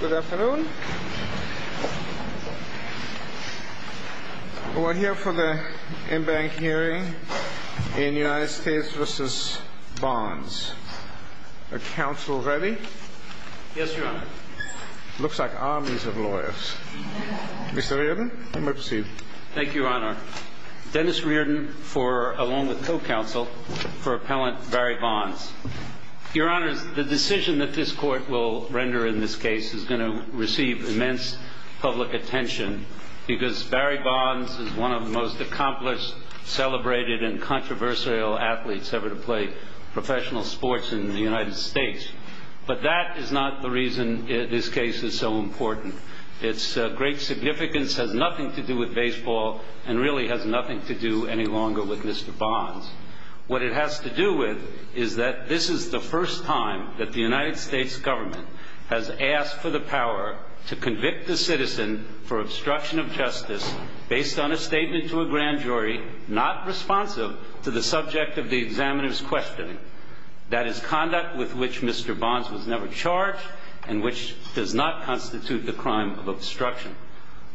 Good afternoon. We're here for the in-bank hearing in United States v. Bonds. Are counsel ready? Yes, Your Honor. Looks like armies of lawyers. Mr. Reardon, you may proceed. Thank you, Your Honor. Dennis Reardon for, along with co-counsel, for appellant Barry Bonds. Your Honor, the decision that this court will render in this case is going to receive immense public attention because Barry Bonds is one of the most accomplished, celebrated, and controversial athletes ever to play professional sports in the United States. But that is not the reason this case is so important. Its great significance has nothing to do with baseball and really has nothing to do any longer with Mr. Bonds. What it has to do with is that this is the first time that the United States government has asked for the power to convict a citizen for obstruction of justice based on a statement to a grand jury not responsive to the subject of the examiner's questioning. That is conduct with which Mr. Bonds was never charged and which does not constitute the crime of obstruction.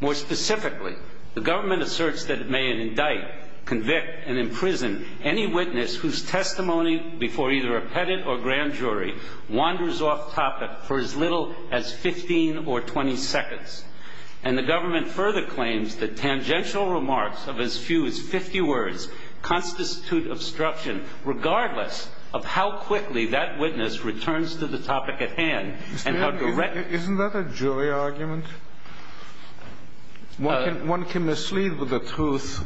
More specifically, the government asserts that it may indict, convict, and imprison any witness whose testimony before either a pettit or grand jury wanders off topic for as little as 15 or 20 seconds. And the government further claims that tangential remarks of as few as 50 words constitute obstruction regardless of how quickly that witness returns to the topic at hand and how directly... One can mislead with the truth.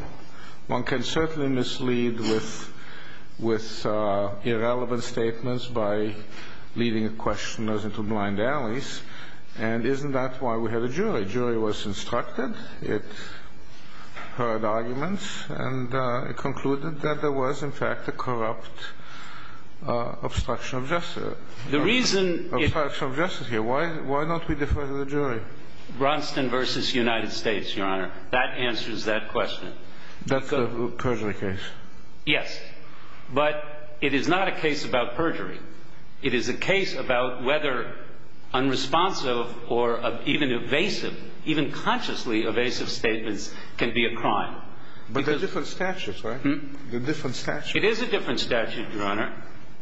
One can certainly mislead with irrelevant statements by leading a questioner into blind alleys. And isn't that why we had a jury? A jury was instructed, it heard arguments, and it concluded that there was in fact a corrupt obstruction of justice. The reason... Obstruction of justice here. Why don't we defer to the jury? Ronston v. United States, Your Honor. That answers that question. That's a perjury case. Yes. But it is not a case about perjury. It is a case about whether unresponsive or even evasive, even consciously evasive statements can be a crime. But they're different statutes, right? They're different statutes. It is a different statute, Your Honor.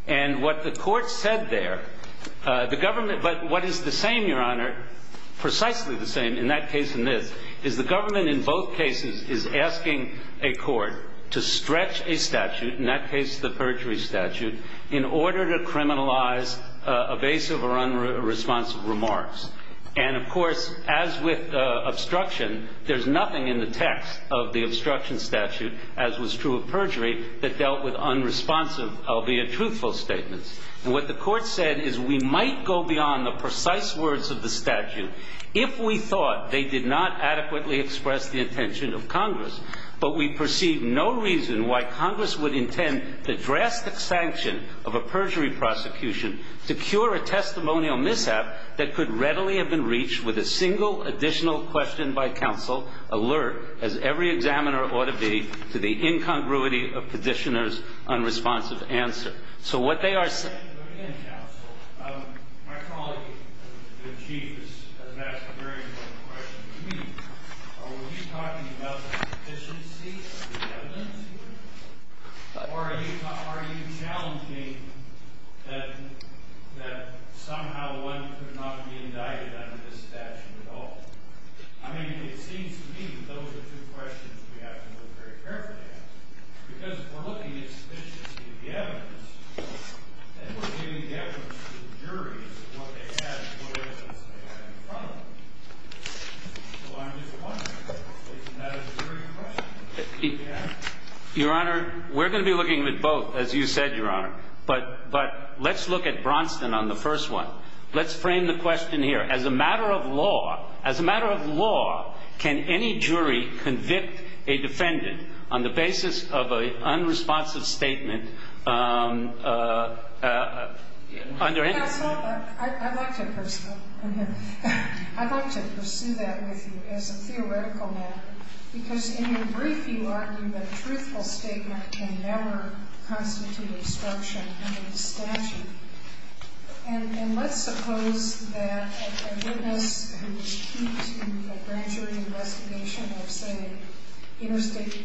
And what the court said there, the government... But what is the same, Your Honor, precisely the same in that case and this, is the government in both cases is asking a court to stretch a statute, in that case the perjury statute, in order to criminalize evasive or unresponsive remarks. And of course, as with obstruction, there's nothing in the text of the obstruction statute, as was true of perjury, that dealt with unresponsive, albeit truthful statements. And what the court said is we might go beyond the precise words of the statute if we thought they did not adequately express the intention of Congress, but we perceive no reason why Congress would intend the drastic sanction of a perjury prosecution to cure a testimonial mishap that could readily have been reached with a single additional question by counsel, alert, as every examiner ought to be, to the incongruity of petitioner's unresponsive answer. Again, counsel, my colleague, the chief, has asked a very important question to me. Are we talking about the sufficiency of the evidence here? Or are you challenging that somehow one could not be indicted under this statute at all? I mean, it seems to me that those are two questions we have to look very carefully at. Because if we're looking at the sufficiency of the evidence, then we're giving the evidence to the juries, what they had and what evidence they had in front of them. So I'm just wondering, isn't that a very good question? Your Honor, we're going to be looking at both, as you said, Your Honor. But let's look at Bronston on the first one. Let's frame the question here. As a matter of law, as a matter of law, can any jury convict a defendant on the basis of an unresponsive statement under any law? Counsel, I'd like to pursue that with you as a theoretical matter. Because in your brief, you argue that a truthful statement can never constitute obstruction under the statute. And let's suppose that a witness who is key to a grand jury investigation of, say, interstate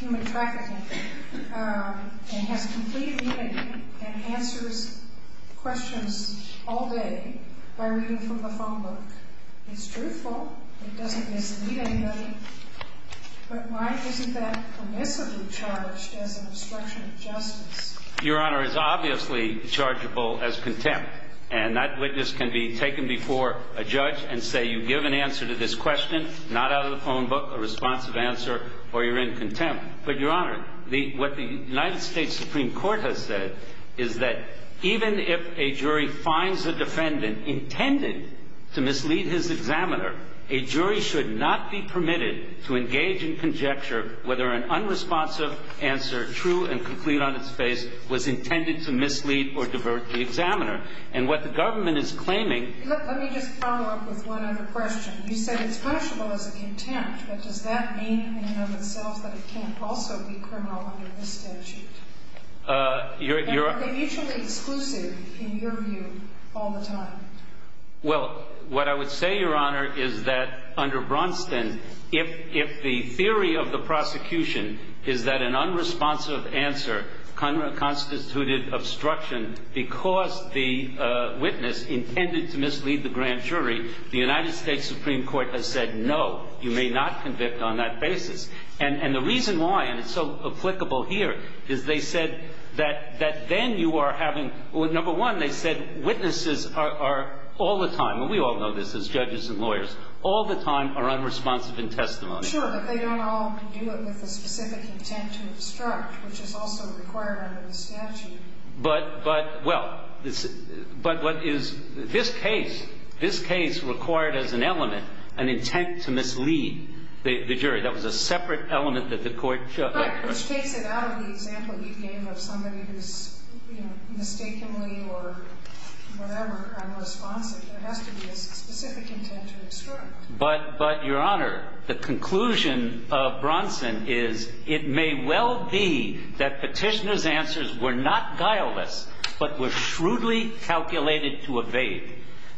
human trafficking, and has complete meaning and answers questions all day by reading from the phone book. It's truthful. It doesn't mislead anybody. But why isn't that permissibly charged as an obstruction of justice? Your Honor, it's obviously chargeable as contempt. And that witness can be taken before a judge and say, you give an answer to this question, not out of the phone book, a responsive answer, or you're in contempt. But, Your Honor, what the United States Supreme Court has said is that even if a jury finds a defendant intended to mislead his examiner, a jury should not be permitted to engage in conjecture whether an unresponsive answer, true and complete on its face, was intended to mislead or divert the examiner. And what the government is claiming Let me just follow up with one other question. You said it's punishable as a contempt. But does that mean in and of itself that it can't also be criminal under this statute? And are they mutually exclusive in your view all the time? Well, what I would say, Your Honor, is that under Braunston, if the theory of the prosecution is that an unresponsive answer constituted obstruction because the witness intended to mislead the grand jury, the United States Supreme Court has said no, you may not convict on that basis. And the reason why, and it's so applicable here, is they said that then you are having, number one, they said witnesses are all the time, and we all know this as judges and lawyers, all the time are unresponsive in testimony. Sure, but they don't all do it with a specific intent to obstruct, which is also required under the statute. But what is this case, this case required as an element an intent to mislead the jury. That was a separate element that the court chose. Right, which takes it out of the example you gave of somebody who's mistakenly or whatever unresponsive. There has to be a specific intent to obstruct. But, Your Honor, the conclusion of Braunston is it may well be that petitioner's answers were not guileless but were shrewdly calculated to evade.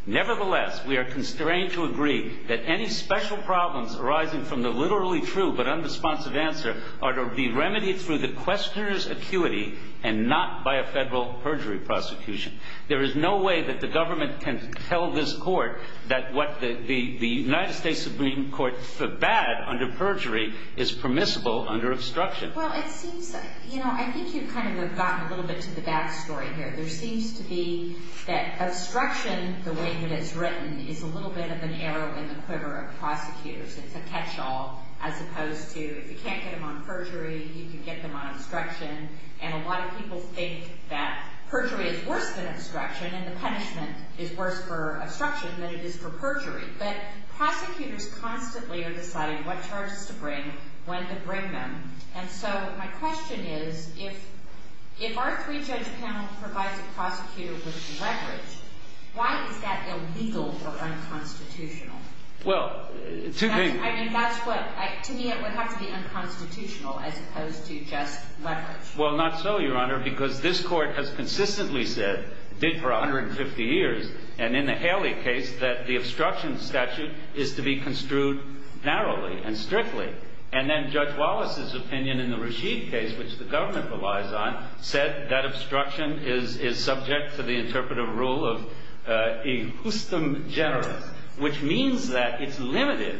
Nevertheless, we are constrained to agree that any special problems arising from the literally true but unresponsive answer are to be remedied through the questioner's acuity and not by a federal perjury prosecution. There is no way that the government can tell this court that what the United States Supreme Court forbade under perjury is permissible under obstruction. Well, it seems that, you know, I think you've kind of gotten a little bit to the back story here. There seems to be that obstruction, the way that it's written, is a little bit of an arrow in the quiver of prosecutors. It's a catch-all as opposed to if you can't get them on perjury, you can get them on obstruction. And a lot of people think that perjury is worse than obstruction and the punishment is worse for obstruction than it is for perjury. But prosecutors constantly are deciding what charges to bring, when to bring them. And so my question is if our three-judge panel provides a prosecutor with leverage, why is that illegal or unconstitutional? Well, two things. I mean, that's what, to me it would have to be unconstitutional as opposed to just leverage. Well, not so, Your Honor, because this court has consistently said, did for 150 years, and in the Haley case, that the obstruction statute is to be construed narrowly and strictly. And then Judge Wallace's opinion in the Rashid case, which the government relies on, said that obstruction is subject to the interpretive rule of a justem generis, which means that it's limited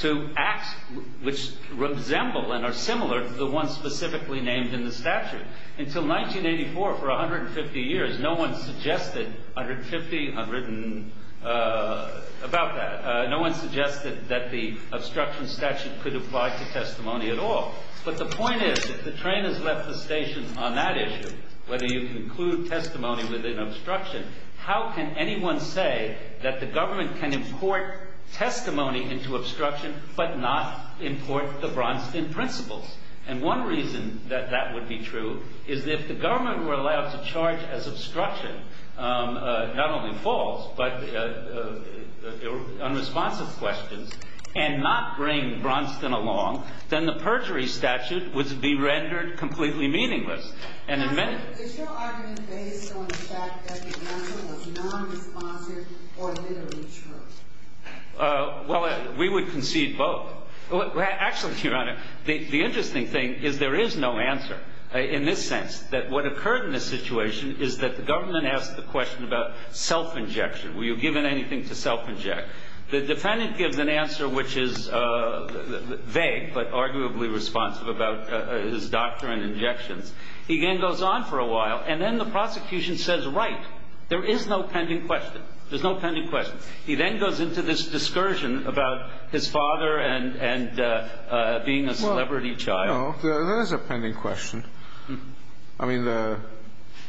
to acts which resemble and are similar to the ones specifically named in the statute. Until 1984, for 150 years, no one suggested 150, I've written about that, no one suggested that the obstruction statute could apply to testimony at all. But the point is, if the train has left the station on that issue, whether you conclude testimony with an obstruction, how can anyone say that the government can import testimony into obstruction but not import the Bronstein principles? And one reason that that would be true is that if the government were allowed to charge as obstruction, not only false, but unresponsive questions, and not bring Bronstein along, then the perjury statute would be rendered completely meaningless. And in many – Your Honor, is your argument based on the fact that the answer was nonresponsive or literally true? Well, we would concede both. Actually, Your Honor, the interesting thing is there is no answer in this sense, that what occurred in this situation is that the government asked the question about self-injection. Were you given anything to self-inject? The defendant gives an answer which is vague, but arguably responsive about his doctor and injections. He then goes on for a while, and then the prosecution says, right, there is no pending question. There's no pending question. He then goes into this discursion about his father and being a celebrity child. Well, no, there is a pending question. I mean, the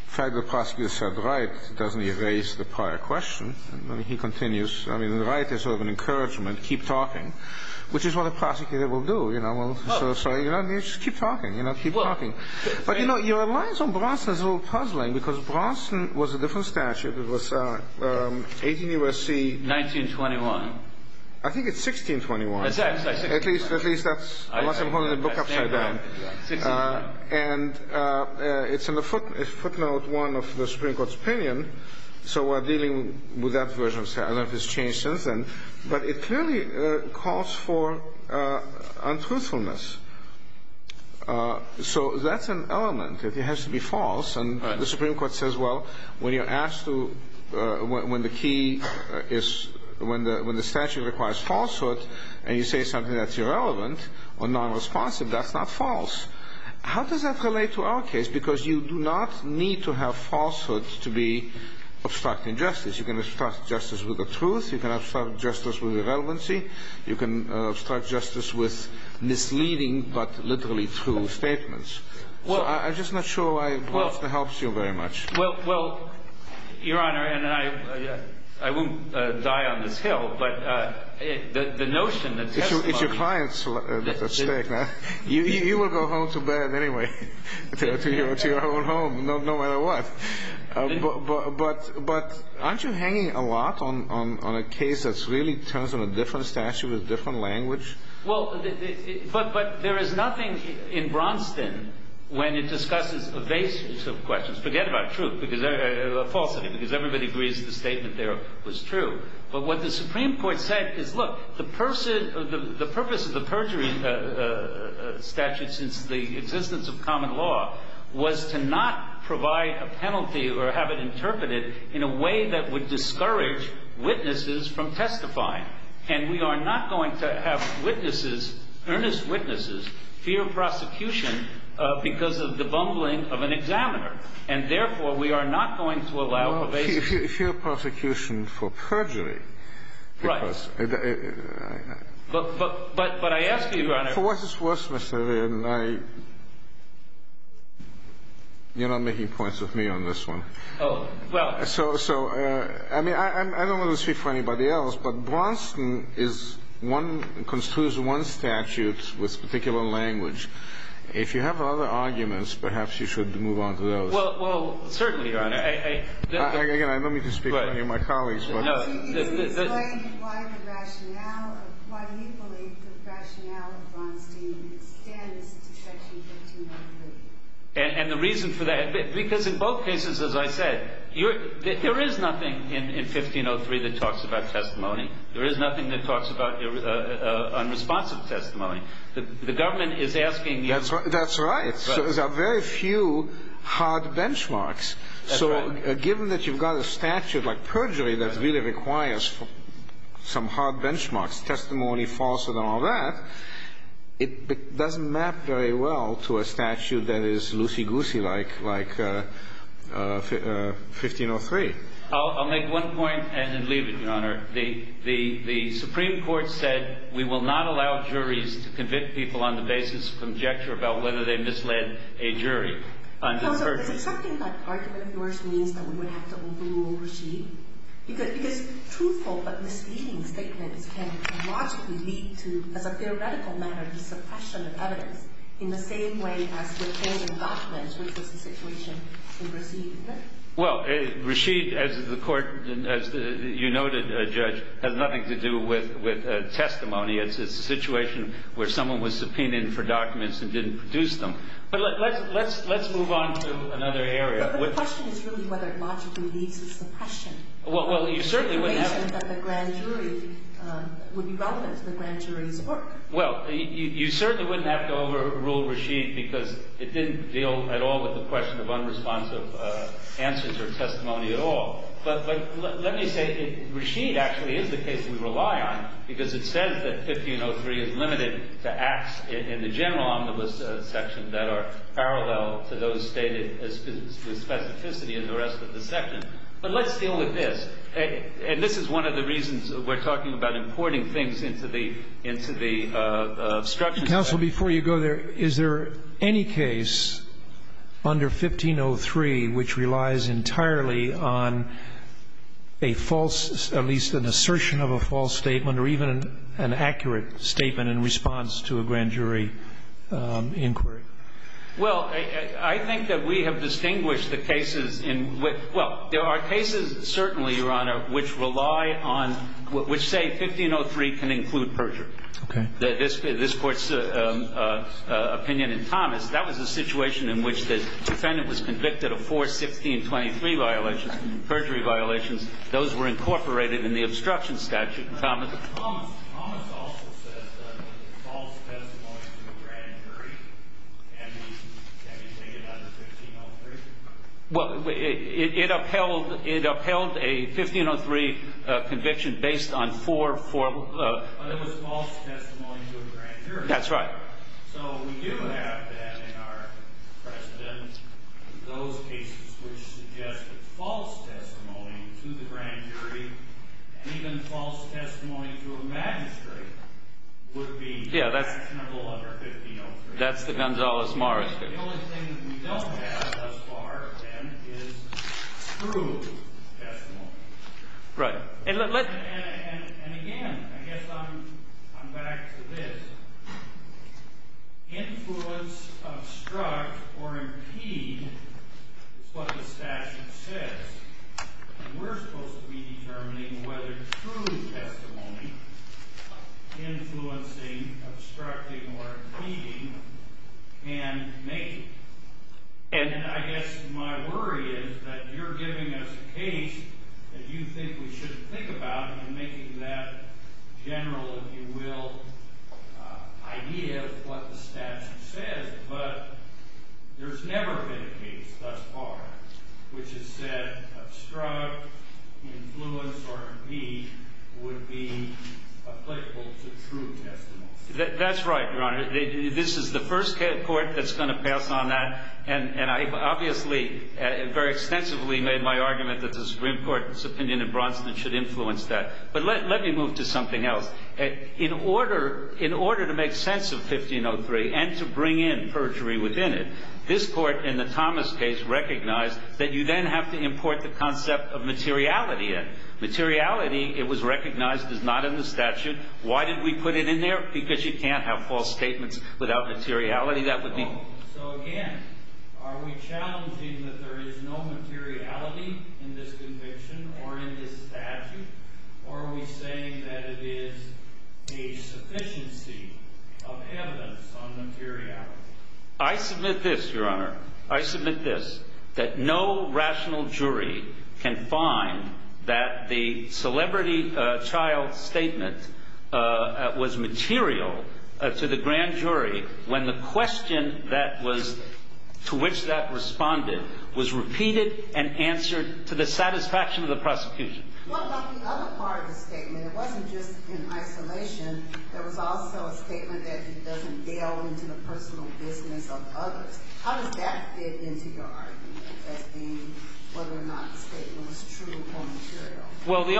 fact the prosecutor said right doesn't erase the prior question. I mean, he continues. I mean, right is sort of an encouragement, keep talking, which is what a prosecutor will do, you know. So, you know, you just keep talking, you know, keep talking. But, you know, your alliance on Bronstein is a little puzzling because Bronstein was a different statute. It was 18 U.S.C. 1921. I think it's 1621. At least that's – unless I'm holding the book upside down. And it's in the footnote one of the Supreme Court's opinion. So we're dealing with that version of statute. I don't know if it's changed since then. But it clearly calls for untruthfulness. So that's an element. It has to be false. And the Supreme Court says, well, when you're asked to – when the key is – when the statute requires falsehood and you say something that's irrelevant or nonresponsive, that's not false. How does that relate to our case? Because you do not need to have falsehoods to be obstructing justice. You can obstruct justice with the truth. You can obstruct justice with irrelevancy. You can obstruct justice with misleading but literally true statements. So I'm just not sure why Bronstein helps you very much. Well, Your Honor, and I won't die on this hill, but the notion that testimony – It's your client's mistake. You will go home to bed anyway, to your own home, no matter what. But aren't you hanging a lot on a case that really turns on a different statute with a different language? Well, but there is nothing in Bronstein when it discusses evasions of questions. Forget about truth – falsity, because everybody agrees the statement there was true. But what the Supreme Court said is, look, the purpose of the perjury statute, since the existence of common law, was to not provide a penalty or have it interpreted in a way that would discourage witnesses from testifying. And we are not going to have witnesses, earnest witnesses, fear prosecution because of the bumbling of an examiner. And therefore, we are not going to allow evasions. But if you fear prosecution for perjury – Right. But I ask you, Your Honor – For what it's worth, Mr. Irvin, I – you're not making points with me on this one. Oh, well – So, I mean, I don't want to speak for anybody else, but Bronstein is one – construes one statute with particular language. If you have other arguments, perhaps you should move on to those. Well, certainly, Your Honor. Again, I don't mean to speak for any of my colleagues, but – I see you as saying why the rationale of – why we believe the rationale of Bronstein extends to Section 1503. And the reason for that – because in both cases, as I said, there is nothing in 1503 that talks about testimony. There is nothing that talks about unresponsive testimony. The government is asking – That's right. There are very few hard benchmarks. That's right. So given that you've got a statute like perjury that really requires some hard benchmarks, testimony, falsehood, and all that, it doesn't map very well to a statute that is loosey-goosey like – like 1503. I'll make one point and then leave it, Your Honor. The – the Supreme Court said we will not allow juries to convict people on the basis of conjecture about whether they misled a jury under perjury. Counsel, is it something that argument of yours means that we would have to overrule Rashid? Because – because truthful but misleading statements can logically lead to, as a theoretical matter, the suppression of evidence in the same way as subpoenaed documents, which is the situation in Rashid, isn't it? Well, Rashid, as the Court – as you noted, Judge, has nothing to do with – with testimony. It's a situation where someone was subpoenaed for documents and didn't produce them. But let's – let's – let's move on to another area. But the question is really whether it logically leads to suppression. Well – well, you certainly wouldn't have – The situation that the grand jury would be relevant to the grand jury's work. Well, you – you certainly wouldn't have to overrule Rashid because it didn't deal at all with the question of unresponsive answers or testimony at all. But – but let me say Rashid actually is the case we rely on because it says that 1503 is limited to acts in the general omnibus section that are parallel to those stated as specificity in the rest of the section. But let's deal with this. And this is one of the reasons we're talking about importing things into the – into the obstruction section. Counsel, before you go there, is there any case under 1503 which relies entirely on a false – at least an assertion of a false statement or even an accurate statement in response to a grand jury inquiry? Well, I think that we have distinguished the cases in – well, there are cases certainly, Your Honor, which rely on – which say 1503 can include perjury. Okay. This court's opinion in Thomas, that was a situation in which the defendant was convicted of four 1623 violations, perjury violations. Those were incorporated in the obstruction statute in Thomas. Thomas also says that false testimony to a grand jury can be stated under 1503. Well, it upheld – it upheld a 1503 conviction based on four – four – But it was false testimony to a grand jury. That's right. So we do have then in our precedent those cases which suggested false testimony to the grand jury and even false testimony to a magistrate would be actionable under 1503. That's the Gonzales-Morris case. The only thing that we don't have thus far, then, is true testimony. Right. And again, I guess I'm back to this. Influence, obstruct, or impede is what the statute says. We're supposed to be determining whether true testimony, influencing, obstructing, or impeding can make it. And I guess my worry is that you're giving us a case that you think we shouldn't think about and making that general, if you will, idea of what the statute says, but there's never been a case thus far which has said obstruct, influence, or impede would be applicable to true testimony. That's right, Your Honor. This is the first court that's going to pass on that, and I've obviously very extensively made my argument that the Supreme Court's opinion in Bronson should influence that. But let me move to something else. In order to make sense of 1503 and to bring in perjury within it, this court in the Thomas case recognized that you then have to import the concept of materiality in. Materiality, it was recognized as not in the statute. Why did we put it in there? Because you can't have false statements without materiality. So again, are we challenging that there is no materiality in this conviction or in this statute, or are we saying that it is a sufficiency of evidence on materiality? I submit this, Your Honor. I submit this, that no rational jury can find that the celebrity child statement was material to the grand jury when the question that was to which that responded was repeated and answered to the satisfaction of the prosecution. What about the other part of the statement? It wasn't just in isolation. There was also a statement that it doesn't delve into the personal business of others. How does that fit into your argument as being whether or not the statement was true or material? Well, the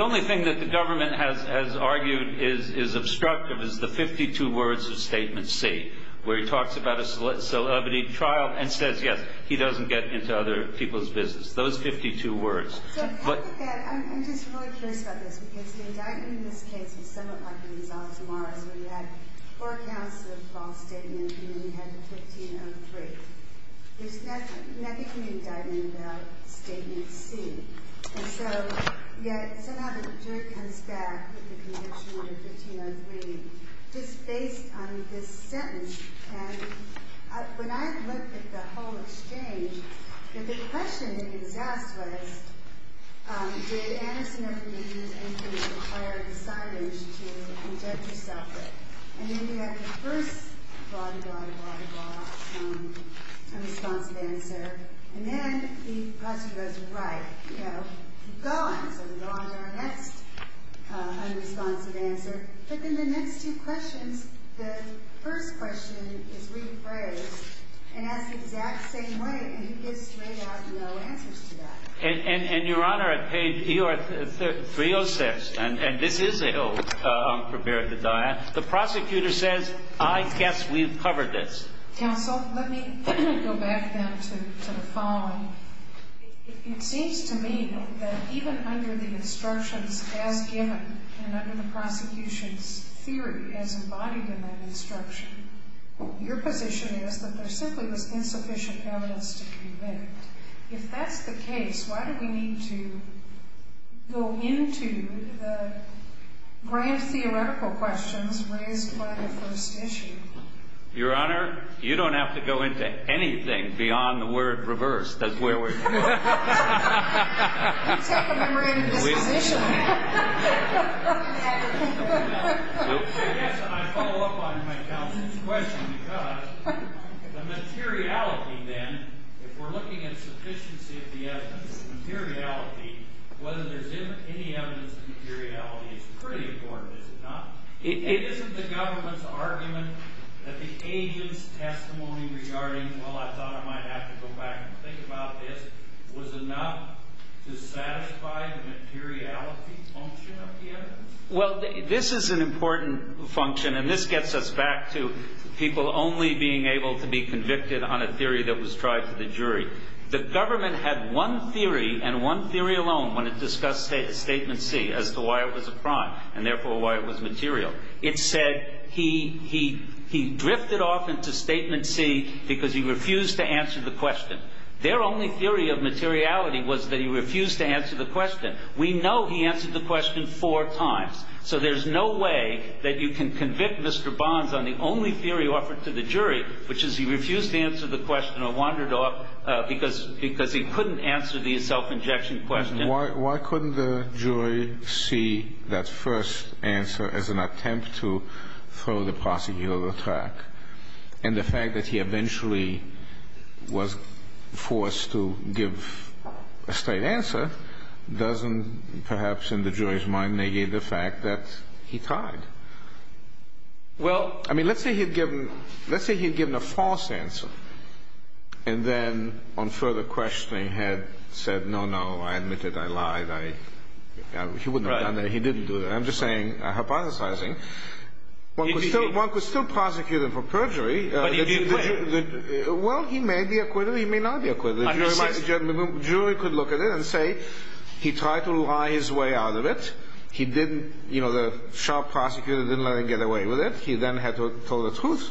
only thing that the government has argued is obstructive is the 52 words of Statement C, where he talks about a celebrity child and says, yes, he doesn't get into other people's business. Those 52 words. I'm just really curious about this, because the indictment in this case is somewhat like the resolve tomorrow's where you had four counts of false statements and then you had the 1503. There's nothing in the indictment about Statement C. And so yet somehow the jury comes back with the conviction of 1503 just based on this sentence. And when I looked at the whole exchange, the question that he was asked was, did Anderson ever use any kind of prior decidings to inject yourself with? And then you have the first blah, blah, blah, blah, unresponsive answer. And then the prosecutor goes, right, you know, gone. So we go on to our next unresponsive answer. But then the next two questions, the first question is rephrased and asked the exact same way, and he gets straight out no answers to that. And, Your Honor, at page 306, and this is a little unprepared design, the prosecutor says, I guess we've covered this. Counsel, let me go back then to the following. It seems to me that even under the instructions as given and under the prosecution's theory as embodied in that instruction, your position is that there simply was insufficient evidence to convict. If that's the case, why do we need to go into the grand theoretical questions raised by the first issue? Your Honor, you don't have to go into anything beyond the word reverse. That's where we're going. It's like a memorandum of disposition. I guess I follow up on my counselor's question because the materiality then, if we're looking at sufficiency of the evidence, the materiality, whether there's any evidence of materiality is pretty important, is it not? It isn't the government's argument that the agent's testimony regarding, well, I thought I might have to go back and think about this, was enough to satisfy the materiality function of the evidence? Well, this is an important function, and this gets us back to people only being able to be convicted on a theory that was tried to the jury. The government had one theory and one theory alone when it discussed Statement C as to why it was a crime and therefore why it was material. It said he drifted off into Statement C because he refused to answer the question. Their only theory of materiality was that he refused to answer the question. We know he answered the question four times, so there's no way that you can convict Mr. Bonds on the only theory offered to the jury, which is he refused to answer the question or wandered off because he couldn't answer the self-injection question. Why couldn't the jury see that first answer as an attempt to throw the prosecutor off track? And the fact that he eventually was forced to give a straight answer doesn't perhaps in the jury's mind negate the fact that he tried. I mean, let's say he'd given a false answer and then on further questioning had said, no, no, I admit it, I lied, he wouldn't have done that, he didn't do that. I'm just hypothesizing. One could still prosecute him for perjury. But he did quit. Well, he may be acquitted, he may not be acquitted. The jury could look at it and say he tried to lie his way out of it. He didn't, you know, the sharp prosecutor didn't let him get away with it. He then had to tell the truth.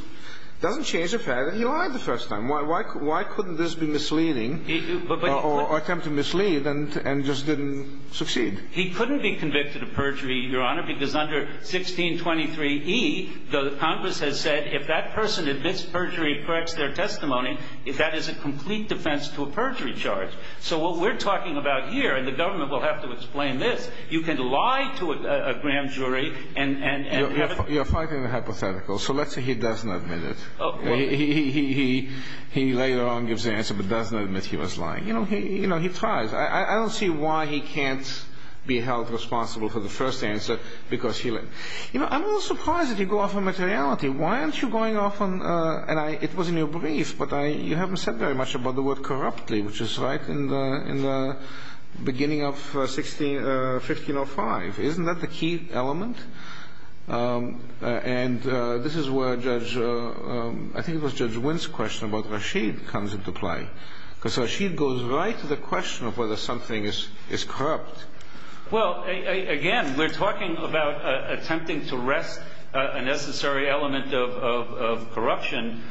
Doesn't change the fact that he lied the first time. Why couldn't this be misleading or attempt to mislead and just didn't succeed? He couldn't be convicted of perjury, Your Honor, because under 1623E, the Congress has said if that person admits perjury, corrects their testimony, that is a complete defense to a perjury charge. So what we're talking about here, and the government will have to explain this, you can lie to a grand jury and have it. You're fighting a hypothetical. So let's say he doesn't admit it. He later on gives the answer but doesn't admit he was lying. You know, he tries. I don't see why he can't be held responsible for the first answer because he lied. You know, I'm a little surprised that you go off on materiality. Why aren't you going off on, and it was in your brief, but you haven't said very much about the word corruptly, which is right in the beginning of 1605. Isn't that the key element? And this is where Judge, I think it was Judge Wynn's question about Rashid comes into play, because Rashid goes right to the question of whether something is corrupt. Well, again, we're talking about attempting to rest a necessary element of corruption.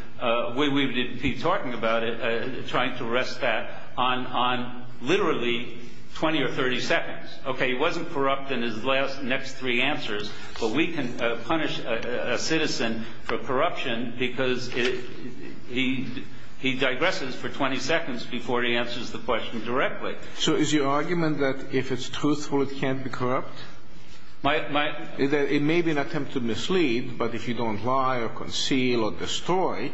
We would be talking about it, trying to rest that on literally 20 or 30 seconds. Okay, he wasn't corrupt in his next three answers, but we can punish a citizen for corruption because he digresses for 20 seconds before he answers the question directly. So is your argument that if it's truthful, it can't be corrupt? It may be an attempt to mislead, but if you don't lie or conceal or destroy,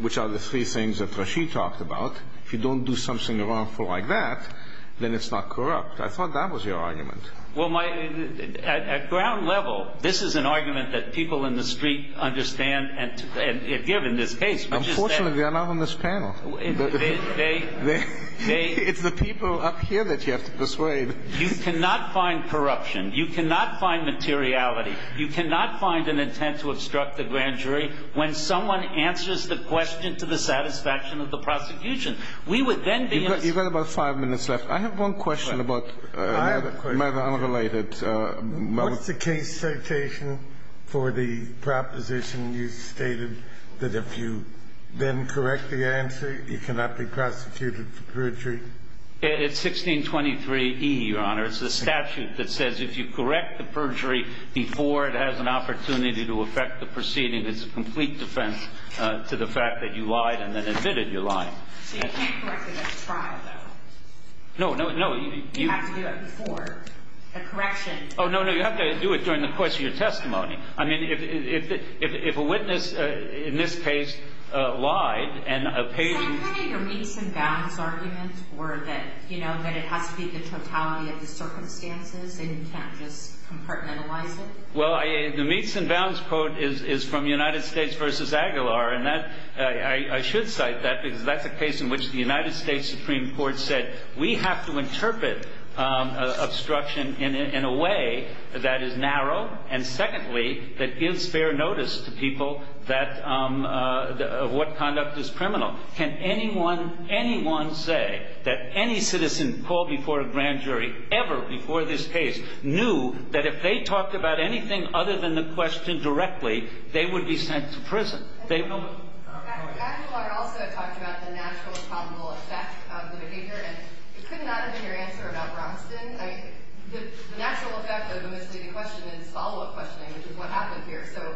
which are the three things that Rashid talked about, if you don't do something wrongful like that, then it's not corrupt. I thought that was your argument. Well, at ground level, this is an argument that people in the street understand and give in this case. Unfortunately, they're not on this panel. It's the people up here that you have to persuade. You cannot find corruption. You cannot find materiality. You cannot find an intent to obstruct the grand jury when someone answers the question to the satisfaction of the prosecution. We would then be in a situation. You've got about five minutes left. I have one question about another matter unrelated. What's the case citation for the proposition you stated that if you then correct the answer, you cannot be prosecuted for perjury? It's 1623E, Your Honor. It's the statute that says if you correct the perjury before it has an opportunity to affect the proceeding, it's a complete defense to the fact that you lied and then admitted you lied. You can't correct it at trial, though. No, no, no. You have to do it before the correction. Oh, no, no. You have to do it during the course of your testimony. I mean, if a witness in this case lied and a patient— Is that kind of your meets and bounds argument or that, you know, that it has to be the totality of the circumstances and you can't just compartmentalize it? Well, the meets and bounds quote is from United States v. Aguilar, and I should cite that because that's a case in which the United States Supreme Court said we have to interpret obstruction in a way that is narrow and secondly that gives fair notice to people of what conduct is criminal. Can anyone say that any citizen called before a grand jury ever before this case knew that if they talked about anything other than the question directly, they would be sent to prison? Aguilar also talked about the natural and probable effect of the behavior, and it could not have been your answer about Brownston. The natural effect of the misleading question is follow-up questioning, which is what happened here. So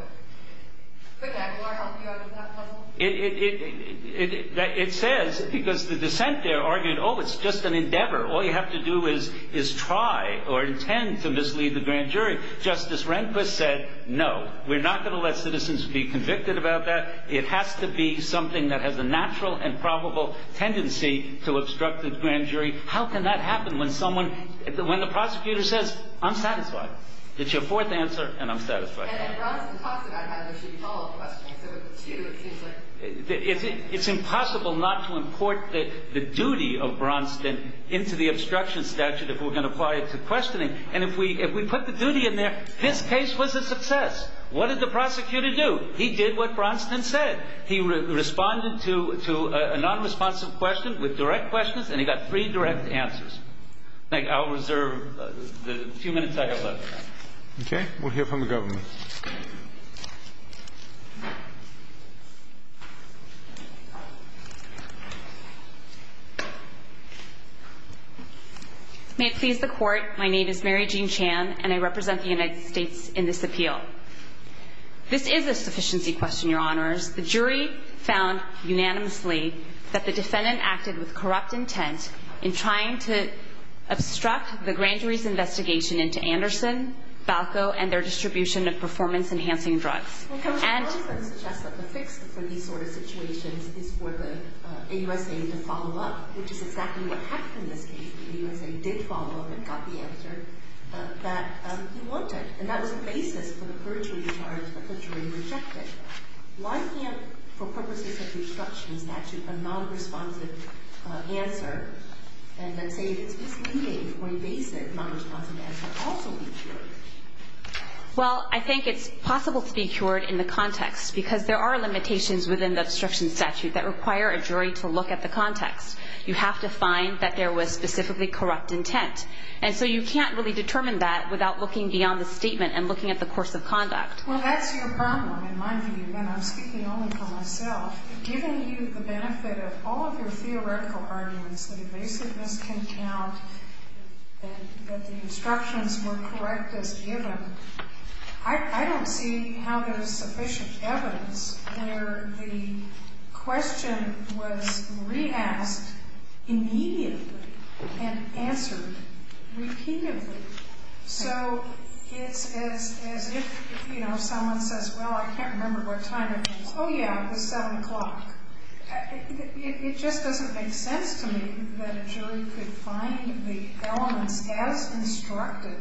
could Aguilar help you out with that puzzle? It says, because the dissent there argued, oh, it's just an endeavor. All you have to do is try or intend to mislead the grand jury. Justice Rehnquist said no. We're not going to let citizens be convicted about that. It has to be something that has a natural and probable tendency to obstruct the grand jury. How can that happen when the prosecutor says, I'm satisfied? It's your fourth answer, and I'm satisfied. And Brownston talks about how there should be follow-up questioning. It's impossible not to import the duty of Brownston into the obstruction statute if we're going to apply it to questioning, and if we put the duty in there, this case was a success. What did the prosecutor do? He did what Brownston said. He responded to a nonresponsive question with direct questions, and he got three direct answers. I'll reserve the few minutes I have left. Okay. We'll hear from the government. May it please the Court, my name is Mary Jean Chan, and I represent the United States in this appeal. This is a sufficiency question, Your Honors. The jury found unanimously that the defendant acted with corrupt intent in trying to obstruct the grand jury's investigation into Anderson, Falco, and their distribution of performance-enhancing drugs. Well, Judge Brownston suggests that the fix for these sort of situations is for the AUSA to follow up, which is exactly what happened in this case. The AUSA did follow up and got the answer that he wanted, and that was the basis for the perjury charge that the jury rejected. Why can't, for purposes of the obstruction statute, a nonresponsive answer, and let's say it's misleading when basic nonresponsive answers also be cured? Well, I think it's possible to be cured in the context because there are limitations within the obstruction statute that require a jury to look at the context. You have to find that there was specifically corrupt intent, and so you can't really determine that without looking beyond the statement and looking at the course of conduct. Well, that's your problem, in my view, and I'm speaking only for myself. Given you the benefit of all of your theoretical arguments, that evasiveness can count, that the instructions were correct as given, I don't see how there's sufficient evidence where the question was re-asked immediately and answered repeatedly. So it's as if, you know, someone says, well, I can't remember what time it is. Oh, yeah, it was 7 o'clock. It just doesn't make sense to me that a jury could find the elements as instructed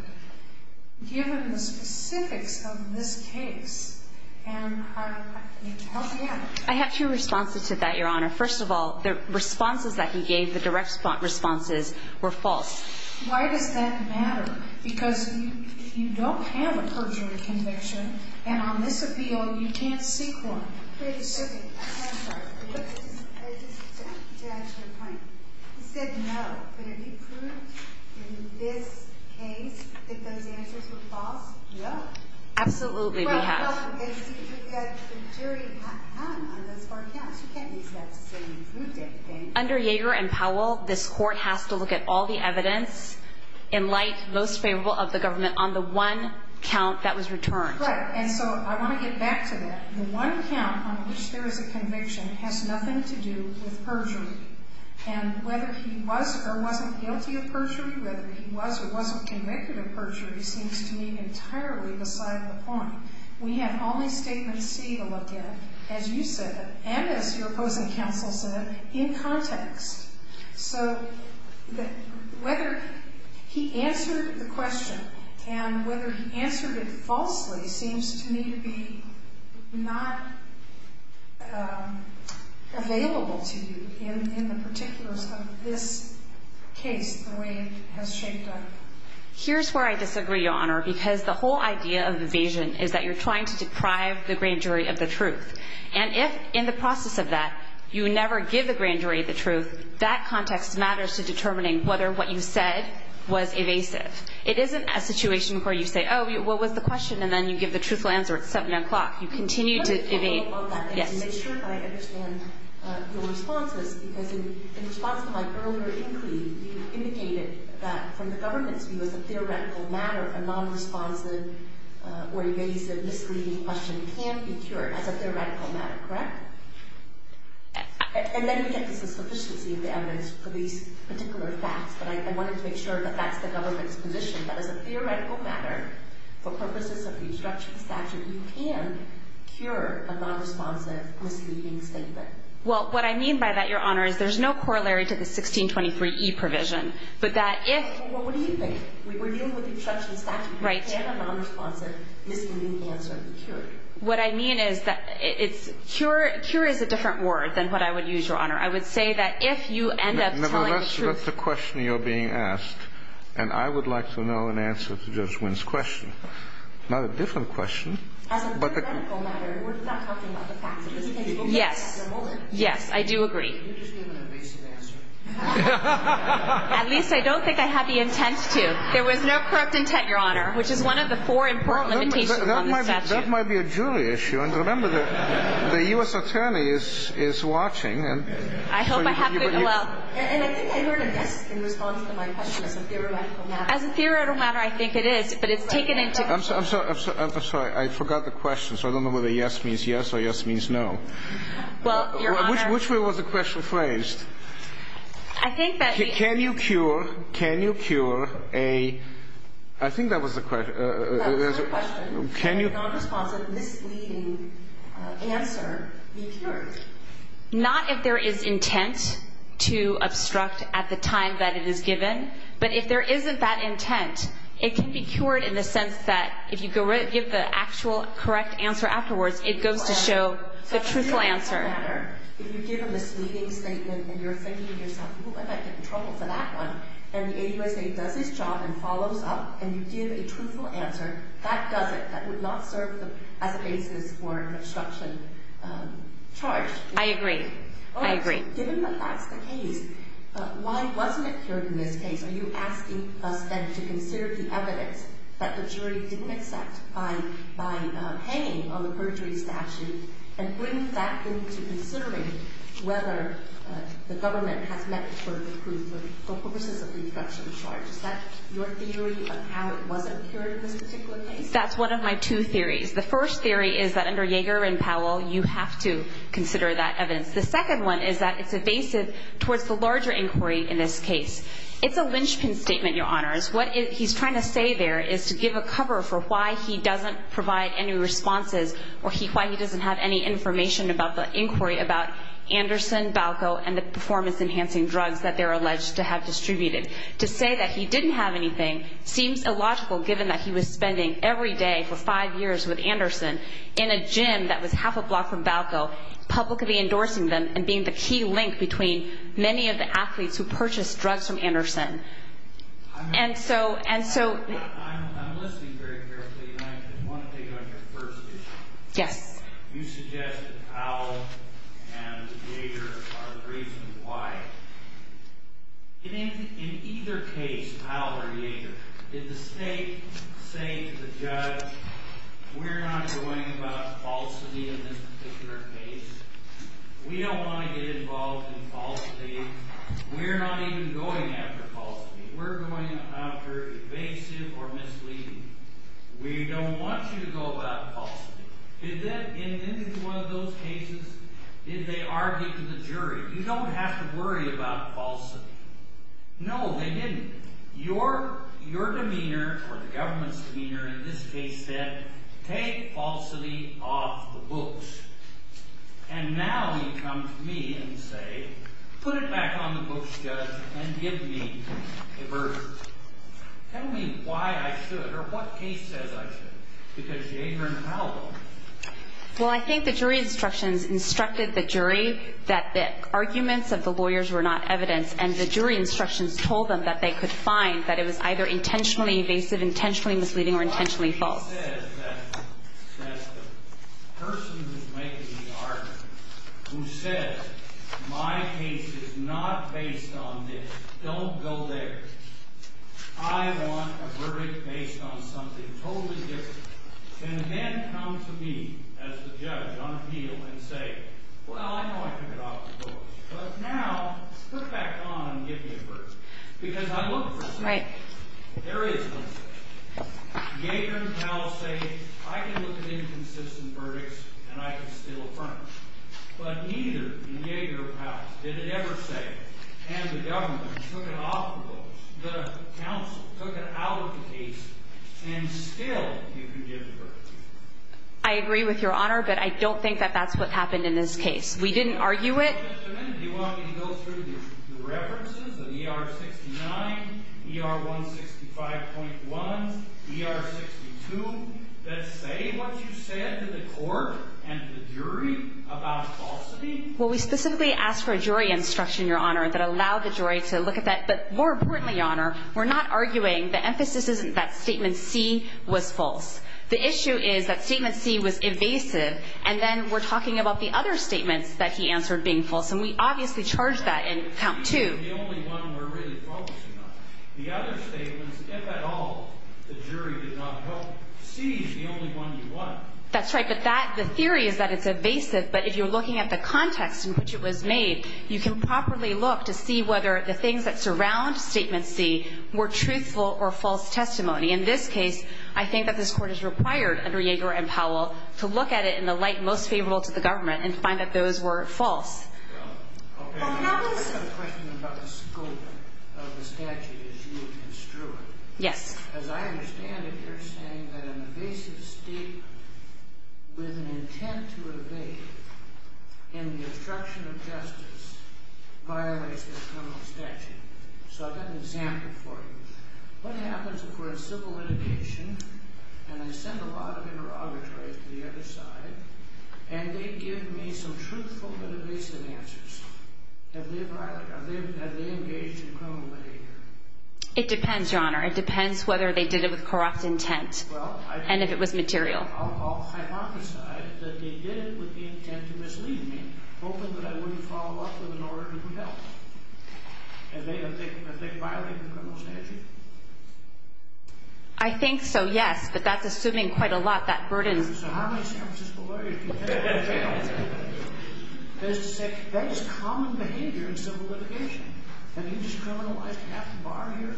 given the specifics of this case, and I don't get it. I have two responses to that, Your Honor. First of all, the responses that he gave, the direct responses, were false. Why does that matter? Because you don't have a perjury conviction, and on this appeal, you can't seek one. Wait a second. I'm sorry. I just want to add to your point. He said no, but have you proved in this case that those answers were false? No. Absolutely, we have. Well, if you had the jury on those four counts, you can't use that to say you proved it. Under Yeager and Powell, this court has to look at all the evidence in light most favorable of the government on the one count that was returned. Right, and so I want to get back to that. The one count on which there is a conviction has nothing to do with perjury, and whether he was or wasn't guilty of perjury, whether he was or wasn't convicted of perjury seems to me entirely beside the point. We have only Statement C to look at, as you said, and as your opposing counsel said, in context. So whether he answered the question and whether he answered it falsely seems to me to be not available to you in the particulars of this case the way it has shaped up. Here's where I disagree, Your Honor, because the whole idea of evasion is that you're trying to deprive the grand jury of the truth, and if, in the process of that, you never give the grand jury the truth, that context matters to determining whether what you said was evasive. It isn't a situation where you say, oh, what was the question, and then you give the truthful answer at 7 o'clock. You continue to evade. Let me follow up on that and make sure that I understand your responses, because in response to my earlier inquiry, you indicated that from the government's view, as a theoretical matter, a nonresponsive or evasive misleading question can be cured as a theoretical matter, correct? And then you get the sufficiency of the evidence for these particular facts, but I wanted to make sure that that's the government's position, that as a theoretical matter, for purposes of the obstruction statute, you can cure a nonresponsive misleading statement. Well, what I mean by that, Your Honor, is there's no corollary to the 1623E provision, but that if... Well, what do you think? We're dealing with the obstruction statute. Right. And a nonresponsive misleading answer can be cured. What I mean is that cure is a different word than what I would use, Your Honor. I would say that if you end up telling the truth... No, but that's the question you're being asked, and I would like to know an answer to Judge Wynn's question. Not a different question, but... As a theoretical matter, we're not talking about the facts of this case. Yes. Yes, I do agree. You just gave an evasive answer. At least I don't think I had the intent to. There was no corrupt intent, Your Honor, which is one of the four important limitations of the statute. That might be a jury issue, and remember that the U.S. attorney is watching. I hope I have good... And I think I heard a yes in response to my question as a theoretical matter. As a theoretical matter, I think it is, but it's taken into consideration. I'm sorry. I forgot the question, so I don't know whether a yes means yes or a yes means no. Well, Your Honor... Which way was the question phrased? I think that... Can you cure a... I think that was the question. That was the question. Can you... Nonresponsive misleading answer be cured? Not if there is intent to obstruct at the time that it is given, but if there isn't that intent, it can be cured in the sense that if you give the actual correct answer afterwards, it goes to show the truthful answer. In your matter, if you give a misleading statement and you're thinking to yourself, who am I going to get in trouble for that one? And the AUSA does its job and follows up and you give a truthful answer, that does it. That would not serve as a basis for an obstruction charge. I agree. I agree. Given that that's the case, why wasn't it cured in this case? Are you asking us then to consider the evidence that the jury didn't accept by hanging on the perjury statute and bring that into considering whether the government has met for the purposes of the obstruction charge? Is that your theory of how it wasn't cured in this particular case? That's one of my two theories. The first theory is that under Yeager and Powell, you have to consider that evidence. The second one is that it's evasive towards the larger inquiry in this case. It's a linchpin statement, Your Honors. What he's trying to say there is to give a cover for why he doesn't provide any responses or why he doesn't have any information about the inquiry about Anderson, Valco, and the performance-enhancing drugs that they're alleged to have distributed. To say that he didn't have anything seems illogical given that he was spending every day for five years with Anderson in a gym that was half a block from Valco, publicly endorsing them and being the key link between many of the athletes who purchased drugs from Anderson. I'm listening very carefully, and I want to take on your first issue. Yes. You suggest that Powell and Yeager are the reason why. In either case, Powell or Yeager, did the state say to the judge, we're not going about falsity in this particular case? We don't want to get involved in falsity. We're not even going after falsity. We're going after evasive or misleading. We don't want you to go about falsity. In any one of those cases, did they argue to the jury, you don't have to worry about falsity? No, they didn't. Your demeanor or the government's demeanor in this case said, take falsity off the books. And now you come to me and say, put it back on the books, judge, and give me a verdict. Tell me why I should or what case says I should, because Yeager and Powell. Well, I think the jury instructions instructed the jury that the arguments of the lawyers were not evidence, and the jury instructions told them that they could find that it was either intentionally evasive, intentionally misleading, or intentionally false. The law says that the person who's making the argument, who says my case is not based on this, don't go there. I want a verdict based on something totally different. And then come to me as the judge on appeal and say, well, I know I took it off the books, but now put it back on and give me a verdict. Because I look for something. There is something. Yeager and Powell say, I can look at inconsistent verdicts, and I can still affirm them. But neither Yeager or Powell did it ever say, and the government took it off the books, the counsel took it out of the case, and still you can give the verdict. I agree with Your Honor, but I don't think that that's what happened in this case. We didn't argue it. Do you want me to go through the references of ER 69, ER 165.1, ER 62, that say what you said to the court and the jury about falsity? Well, we specifically asked for a jury instruction, Your Honor, that allowed the jury to look at that. But more importantly, Your Honor, we're not arguing, the emphasis isn't that statement C was false. The issue is that statement C was evasive, and then we're talking about the other statements that he answered being false, and we obviously charged that in count two. That C is the only one we're really focusing on. The other statements, if at all the jury did not help, C is the only one you want. That's right, but the theory is that it's evasive, but if you're looking at the context in which it was made, you can properly look to see whether the things that surround statement C were truthful or false testimony. In this case, I think that this Court has required, under Yeager and Powell, to look at it in the light most favorable to the government and find that those were false. Okay. I have a question about the scope of the statute as you construe it. Yes. As I understand it, you're saying that an evasive statement with an intent to evade in the obstruction of justice violates the criminal statute. So I've got an example for you. What happens if we're in civil litigation and I send a lot of interrogatories to the other side and they give me some truthful but evasive answers? Have they engaged in criminal behavior? It depends, Your Honor. It depends whether they did it with corrupt intent and if it was material. Well, I'll hypothesize that they did it with the intent to mislead me, hoping that I wouldn't follow up with an order to help. Have they violated the criminal statute? I think so, yes, but that's assuming quite a lot, that burden. So how many San Francisco lawyers do you think are in jail? That is common behavior in civil litigation. Have you just criminalized half the bar here?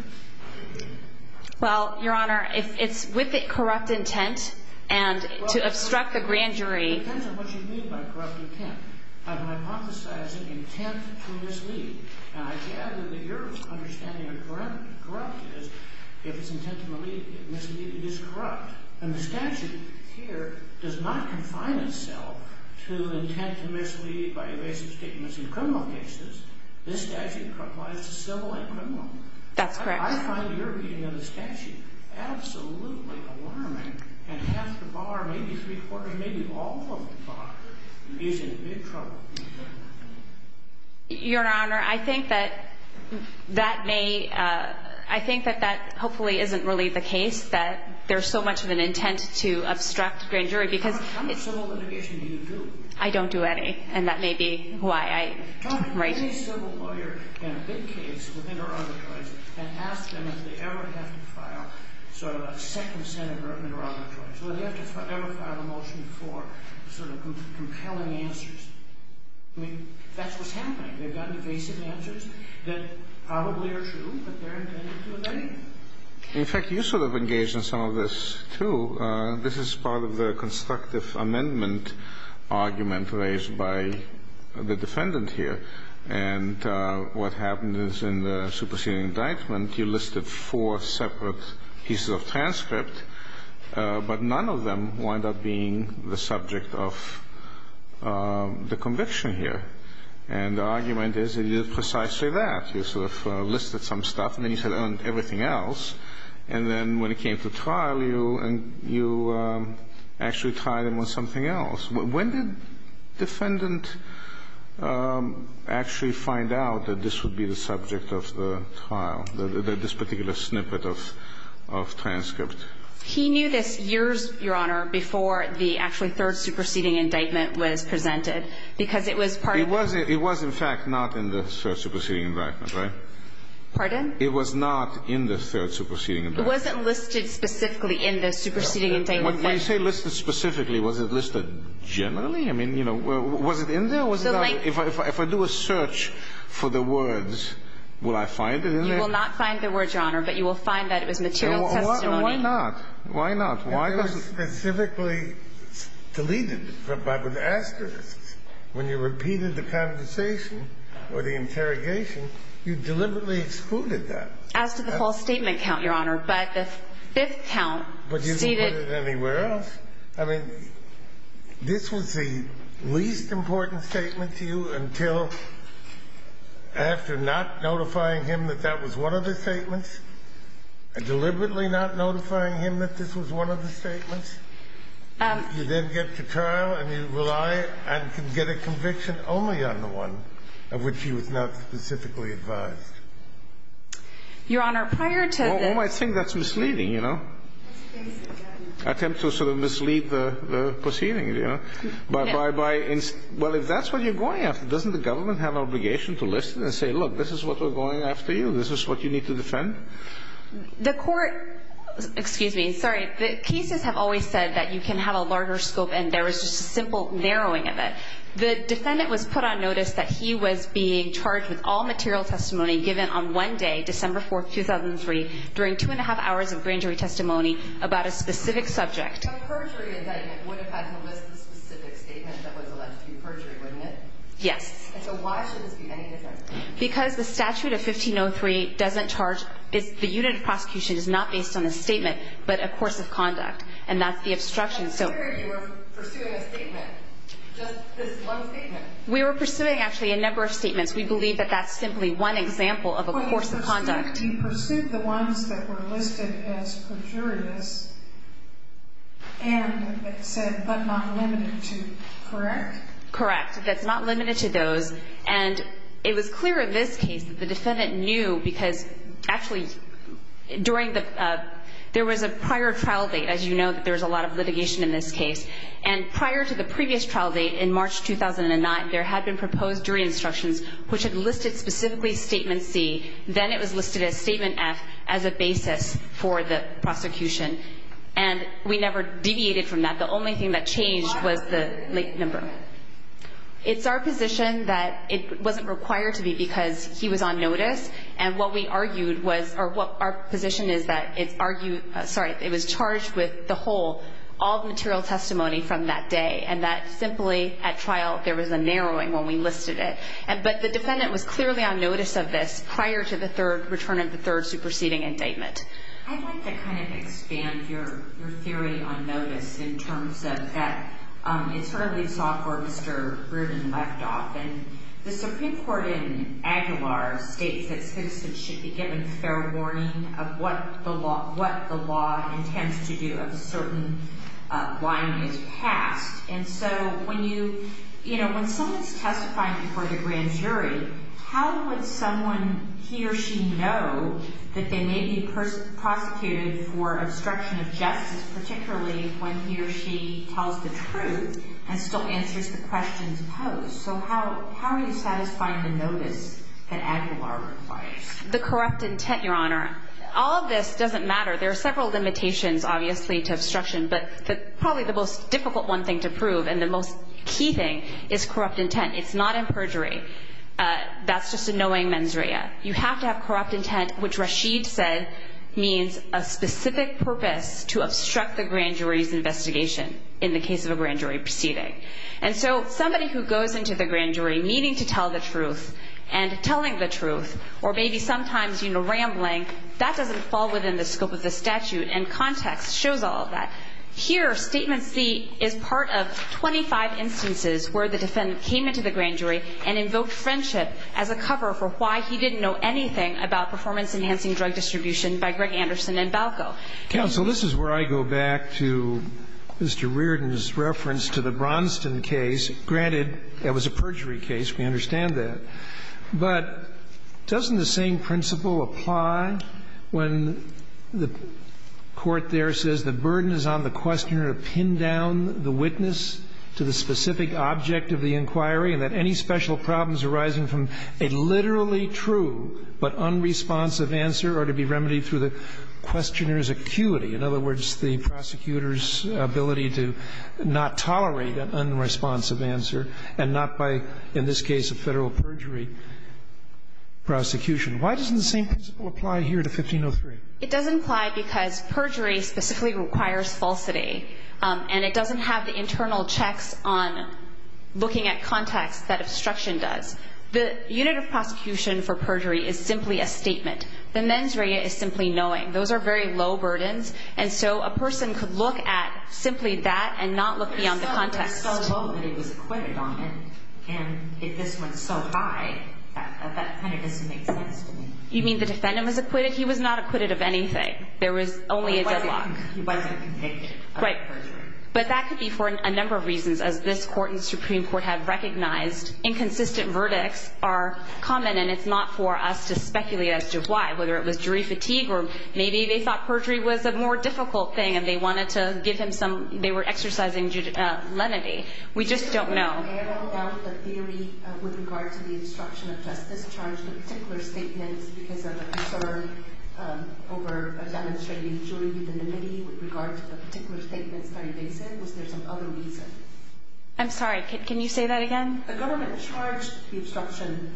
Well, Your Honor, it's with the corrupt intent and to obstruct the grand jury. It depends on what you mean by corrupt intent. I'm hypothesizing intent to mislead, and I gather that your understanding of corrupt is if it's intent to mislead, it is corrupt. And the statute here does not confine itself to intent to mislead by evasive statements in criminal cases. This statute applies to civil and criminal. That's correct. I find your reading of the statute absolutely alarming, and half the bar, maybe three-quarters, maybe all of the bar is in big trouble. Your Honor, I think that that may—I think that that hopefully isn't really the case, that there's so much of an intent to obstruct the grand jury because— How much civil litigation do you do? I don't do any, and that may be why I— Right. In fact, you sort of engaged in some of this, too. This is part of the constructive amendment argument raised by the defendant here. And what happened is in the superseding indictment, you listed four separate pieces of transcript, but none of them wound up being the subject of the conviction here. And the argument is that you did precisely that. You sort of listed some stuff, and then you said, oh, and everything else. And then when it came to trial, you actually tried them on something else. When did the defendant actually find out that this would be the subject of the trial, this particular snippet of transcript? He knew this years, Your Honor, before the actually third superseding indictment was presented because it was part of the— It was, in fact, not in the third superseding indictment, right? Pardon? It was not in the third superseding indictment. It wasn't listed specifically in the superseding indictment. When you say listed specifically, was it listed generally? I mean, you know, was it in there or was it not? If I do a search for the words, will I find it in there? You will not find the words, Your Honor, but you will find that it was material testimony. Why not? Why not? Why not? It was specifically deleted by the asterisk. When you repeated the conversation or the interrogation, you deliberately excluded that. As to the false statement count, Your Honor, but the fifth count stated— But you didn't put it anywhere else. I mean, this was the least important statement to you until after not notifying him that that was one of the statements and deliberately not notifying him that this was one of the statements. You then get to trial and you rely and can get a conviction only on the one of which he was not specifically advised. Your Honor, prior to this— Well, I think that's misleading, you know? Attempt to sort of mislead the proceeding, you know? Well, if that's what you're going after, doesn't the government have an obligation to listen and say, Look, this is what we're going after you. This is what you need to defend? The court—excuse me, sorry. The cases have always said that you can have a larger scope and there was just a simple narrowing of it. The defendant was put on notice that he was being charged with all material testimony given on one day, December 4, 2003, during two and a half hours of grand jury testimony about a specific subject. A perjury indictment would have had to list the specific statement that was alleged to be perjury, wouldn't it? Yes. And so why should this be any different? Because the statute of 1503 doesn't charge—the unit of prosecution is not based on a statement but a course of conduct, and that's the obstruction, so— I'm not sure you were pursuing a statement, just this one statement. We were pursuing, actually, a number of statements. We believe that that's simply one example of a course of conduct. But you pursued the ones that were listed as perjurious and that said, but not limited to, correct? Correct. And it was clear in this case that the defendant knew because, actually, during the—there was a prior trial date, as you know, that there was a lot of litigation in this case, and prior to the previous trial date in March 2009, there had been proposed jury instructions which had listed specifically Statement C. Then it was listed as Statement F as a basis for the prosecution, and we never deviated from that. The only thing that changed was the late number. Go ahead. It's our position that it wasn't required to be because he was on notice, and what we argued was—or what our position is that it's argued—sorry, it was charged with the whole, all the material testimony from that day, and that simply at trial there was a narrowing when we listed it. But the defendant was clearly on notice of this prior to the third—return of the third superseding indictment. I'd like to kind of expand your theory on notice in terms of that it sort of leaves off where Mr. Rubin left off. And the Supreme Court in Aguilar states that citizens should be given fair warning of what the law intends to do if a certain line is passed. And so when you—you know, when someone's testifying before the grand jury, how would someone, he or she, know that they may be prosecuted for obstruction of justice, particularly when he or she tells the truth and still answers the questions posed? So how are you satisfying the notice that Aguilar requires? The corrupt intent, Your Honor. All of this doesn't matter. There are several limitations, obviously, to obstruction, but probably the most difficult one thing to prove and the most key thing is corrupt intent. It's not in perjury. That's just a knowing mens rea. You have to have corrupt intent, which Rashid said means a specific purpose to obstruct the grand jury's investigation in the case of a grand jury proceeding. And so somebody who goes into the grand jury meaning to tell the truth and telling the truth or maybe sometimes, you know, rambling, that doesn't fall within the scope of the statute. And context shows all of that. Here, Statement C is part of 25 instances where the defendant came into the grand jury and invoked friendship as a cover for why he didn't know anything about performance-enhancing drug distribution by Greg Anderson and Balco. Counsel, this is where I go back to Mr. Reardon's reference to the Bronston case. Granted, that was a perjury case. We understand that. But doesn't the same principle apply when the court there says the burden is on the questioner to pin down the witness to the specific object of the inquiry and that any special problems arising from a literally true but unresponsive answer are to be remedied through the questioner's acuity, in other words, the prosecutor's acuity? Why doesn't the same principle apply here to 1503? It doesn't apply because perjury specifically requires falsity. And it doesn't have the internal checks on looking at context that obstruction does. The unit of prosecution for perjury is simply a statement. The mens rea is simply knowing. Those are very low burdens. And so a person could look at simply that and not look beyond the context. And if this went so high, that kind of doesn't make sense to me. You mean the defendant was acquitted? He was not acquitted of anything. There was only a deadlock. He wasn't convicted of perjury. Right. But that could be for a number of reasons, as this Court and Supreme Court have recognized. Inconsistent verdicts are common, and it's not for us to speculate as to why, whether it was jury fatigue or maybe they thought perjury was a more difficult thing and they wanted to give him some, they were exercising lenity. We just don't know. Can you narrow down the theory with regard to the obstruction of justice charge, the particular statement because of a concern over demonstrating jury unanimity with regard to the particular statement starting days in? Was there some other reason? I'm sorry. Can you say that again? The government charged the obstruction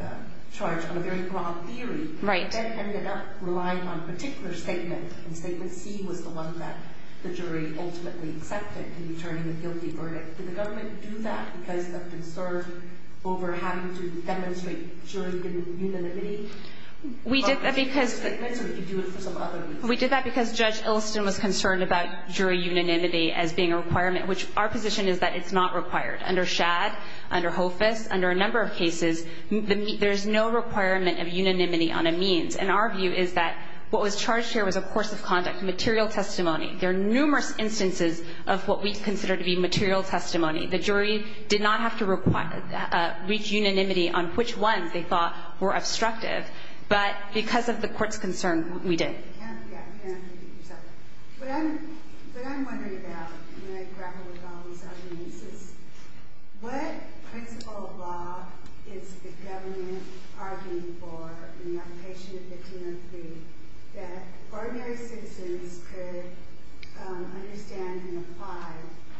charge on a very broad theory. Right. The government ended up relying on a particular statement, and Statement C was the one that the jury ultimately accepted in returning a guilty verdict. Did the government do that because of concern over having to demonstrate jury unanimity? We did that because we did that because Judge Ilston was concerned about jury unanimity as being a requirement, which our position is that it's not required. Under Shad, under Hofus, under a number of cases, there's no requirement of jury unanimity. And our view is that what was charged here was a course of conduct, material testimony. There are numerous instances of what we consider to be material testimony. The jury did not have to reach unanimity on which ones they thought were obstructive. But because of the court's concern, we did. What I'm wondering about when I grapple with all these arguments is what principle of law is the government arguing for in the application of 1503 that ordinary citizens could understand and apply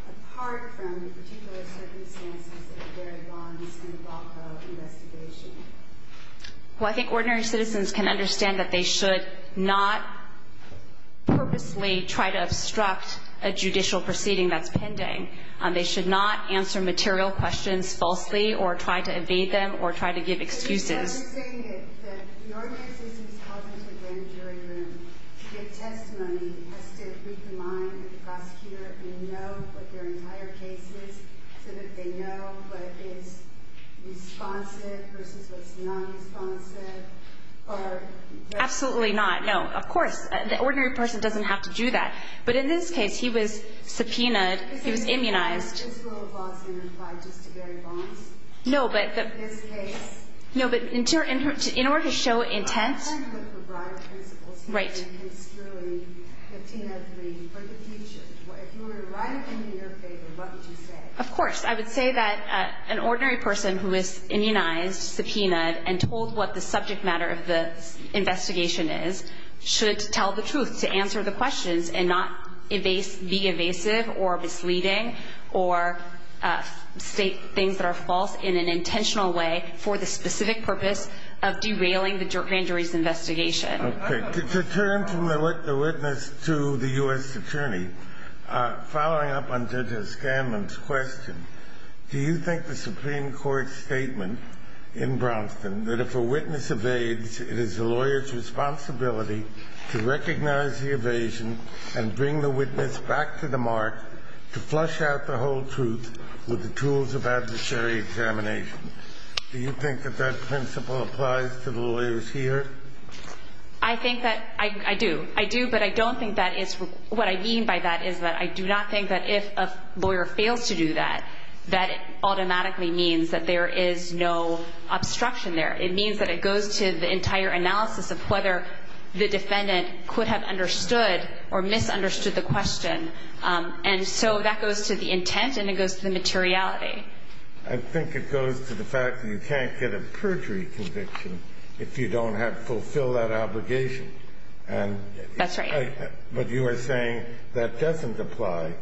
apart from the particular circumstances of the Barry Bonds and the Blanco investigation? Well, I think ordinary citizens can understand that they should not purposely try to obstruct a judicial proceeding that's pending. They should not answer material questions falsely or try to evade them or try to give excuses. So you're saying that the ordinary citizen is called into the grand jury room to give testimony, has to read the mind of the prosecutor and know what their entire case is so that they know what is responsive versus what's non-responsive? Absolutely not. No, of course. The ordinary person doesn't have to do that. But in this case, he was subpoenaed. He was immunized. Is this rule of law being applied just to Barry Bonds in this case? No, but in order to show intent. I'm trying to look for broader principles here than construing 1503 for the future. If you were to write it in your favor, what would you say? Of course. I would say that an ordinary person who is immunized, subpoenaed, and told what the subject matter of the investigation is should tell the truth to answer the questions and not be evasive or misleading or state things that are false in an intentional way for the specific purpose of derailing the grand jury's investigation. Okay. To turn to the witness to the U.S. Attorney, following up on Judge O'Scanlan's question, do you think the Supreme Court's statement in Brownston that if a witness evades, it is the lawyer's responsibility to recognize the evasion and bring the witness back to the mark to flush out the whole truth with the tools of adversary examination, do you think that that principle applies to the lawyers here? I think that – I do. I do, but I don't think that is – what I mean by that is that I do not think that if a lawyer fails to do that, that automatically means that there is no obstruction there. It means that it goes to the entire analysis of whether the defendant could have understood or misunderstood the question. And so that goes to the intent and it goes to the materiality. I think it goes to the fact that you can't get a perjury conviction if you don't have – fulfill that obligation. That's right. But you are saying that doesn't apply